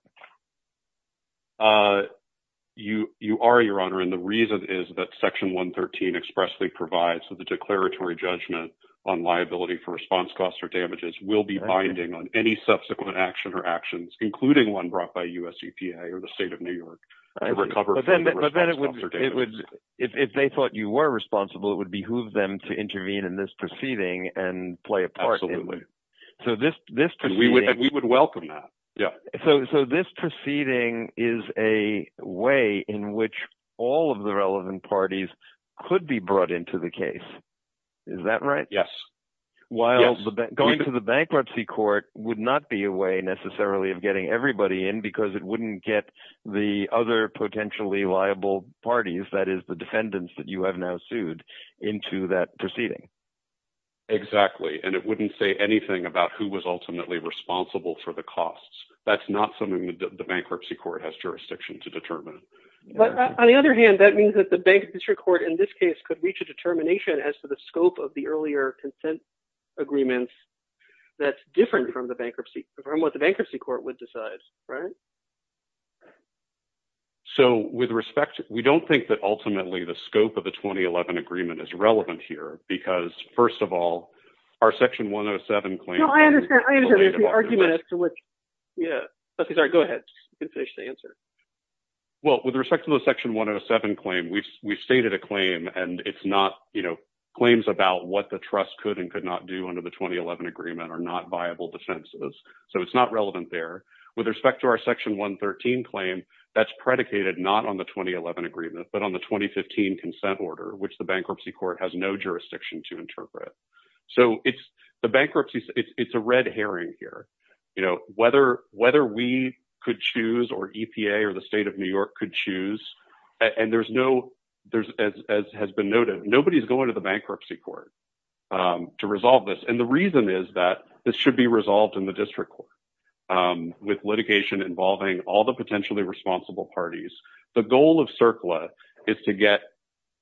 You are, Your Honor, and the reason is that Section 113 expressly provides that the declaratory judgment on liability for response costs or damages will be binding on any subsequent action or actions, including one brought by US EPA or the state of New York. If they thought you were responsible, it would behoove them to intervene in this proceeding and play a part in it. Absolutely. We would welcome that. So this proceeding is a way in which all of the relevant parties could be brought into the case. Is that right? Yes. While going to the bankruptcy court would not be a way necessarily of getting everybody in because it wouldn't get the other potentially liable parties, that is the defendants that you have now sued, into that proceeding. Exactly, and it wouldn't say anything about who was ultimately responsible for the costs. That's not something that the bankruptcy court has jurisdiction to determine. But on the other hand, that means that the bank district court in this case could reach a determination as to the scope of the earlier agreements that's different from the bankruptcy, from what the bankruptcy court would decide. So with respect, we don't think that ultimately the scope of the 2011 agreement is relevant here because first of all, our section 107 claim- No, I understand. There's an argument to which- Yeah, go ahead. You can finish the answer. Well, with respect to the section 107 claim, we've stated a claim and it's not claims about what the trust could and could not do under the 2011 agreement are not viable defenses. So it's not relevant there. With respect to our section 113 claim, that's predicated not on the 2011 agreement, but on the 2015 consent order, which the bankruptcy court has no jurisdiction to interpret. So it's a red herring here. Whether we could choose or EPA or the state of New York could choose, and as has been noted, nobody's going to the bankruptcy court to resolve this. And the reason is that this should be resolved in the district court with litigation involving all the potentially responsible parties. The goal of CERCLA is to get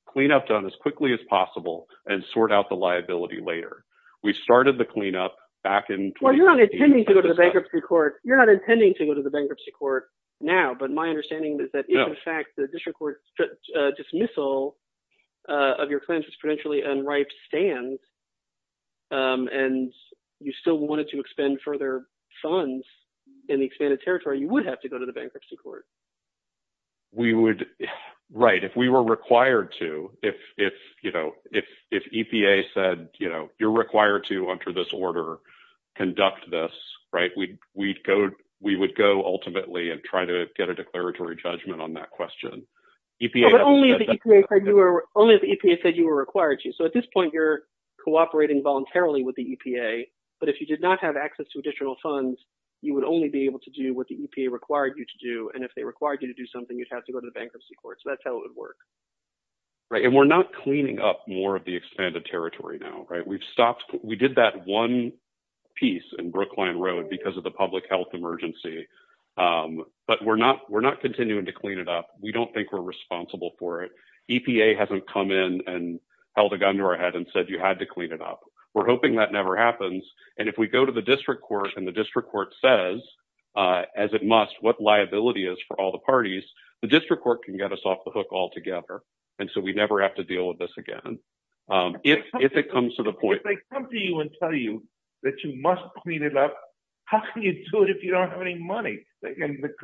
cleanup done as quickly as possible and sort out liability later. We've started the cleanup back in- Well, you're not intending to go to the bankruptcy court. You're not intending to go to the bankruptcy court now, but my understanding is that if in fact the district court dismissal of your claims is potentially unripe stand and you still wanted to expend further funds in the expanded territory, you would have to go to the bankruptcy court. Right. If we were required to, if EPA said, you're required to enter this order, conduct this, we would go ultimately and try to get a declaratory judgment on that question. Only if EPA said you were required to. So at this point, you're cooperating voluntarily with the EPA, but if you did not have access to additional funds, you would only be able to do what the EPA required you to do. And if they required you to do something, you'd have to go to the bankruptcy court. So that's how it would work. Right. And we're not cleaning up more of the expanded territory now, right? We've stopped. We did that one piece in Brookline Road because of the public health emergency, but we're not continuing to clean it up. We don't think we're responsible for it. EPA hasn't come in and held a gun to our head and said, you had to clean it up. We're hoping that never happens. And if we go to the district court and the district court says, as it must, what liability is for all the parties, the district court can get us off the hook altogether. And so we never have to deal with this again. If it comes to the point... If they come to you and tell you that you must clean it up, how can you do it if you don't have any money?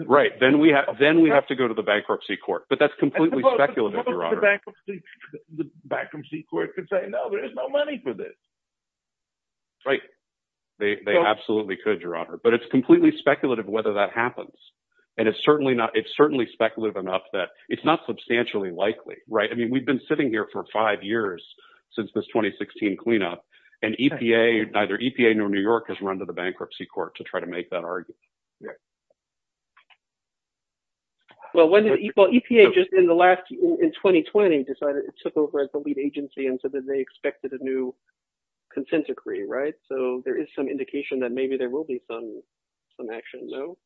Right. Then we have to go to the bankruptcy court, but that's completely speculative, Your Honor. The bankruptcy court could say, no, there's no money for this. Right. They absolutely could, Your Honor. But it's completely speculative whether that happens. And it's certainly speculative enough that it's not substantially likely, right? I mean, we've been sitting here for five years since this 2016 cleanup and neither EPA nor New York has run to the bankruptcy court to try to make that argument. Well, EPA just in the last... Decided it took over as a lead agency and said that they expected a new consent decree, right? So there is some indication that maybe there will be some action, no?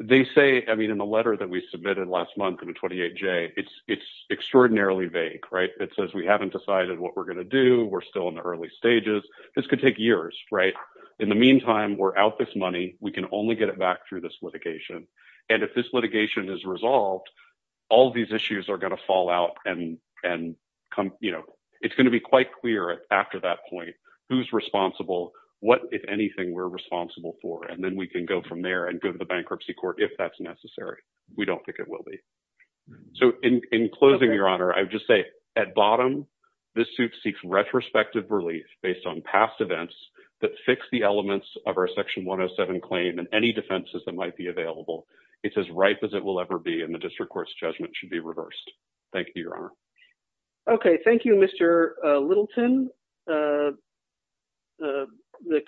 They say, I mean, in the letter that we submitted last month in the 28-J, it's extraordinarily vague, right? It says we haven't decided what we're going to do. We're still in the early stages. This could take years, right? In the meantime, we're out this money. We can only get it back through this litigation. And if this litigation is resolved, all of these issues are going to fall out and it's going to be quite clear after that point who's responsible, what, if anything, we're responsible for. And then we can go from there and go to the bankruptcy court if that's necessary. We don't think it will be. So in closing, Your Honor, I would just say at bottom, this suit seeks retrospective relief based on past events that fix the elements of our defense that might be available. It's as ripe as it will ever be. And the district court's judgment should be reversed. Thank you, Your Honor. Okay. Thank you, Mr. Littleton. The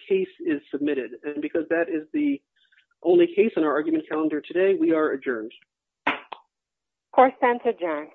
case is submitted. And because that is the only case in our argument calendar today, we are adjourned. Court is adjourned.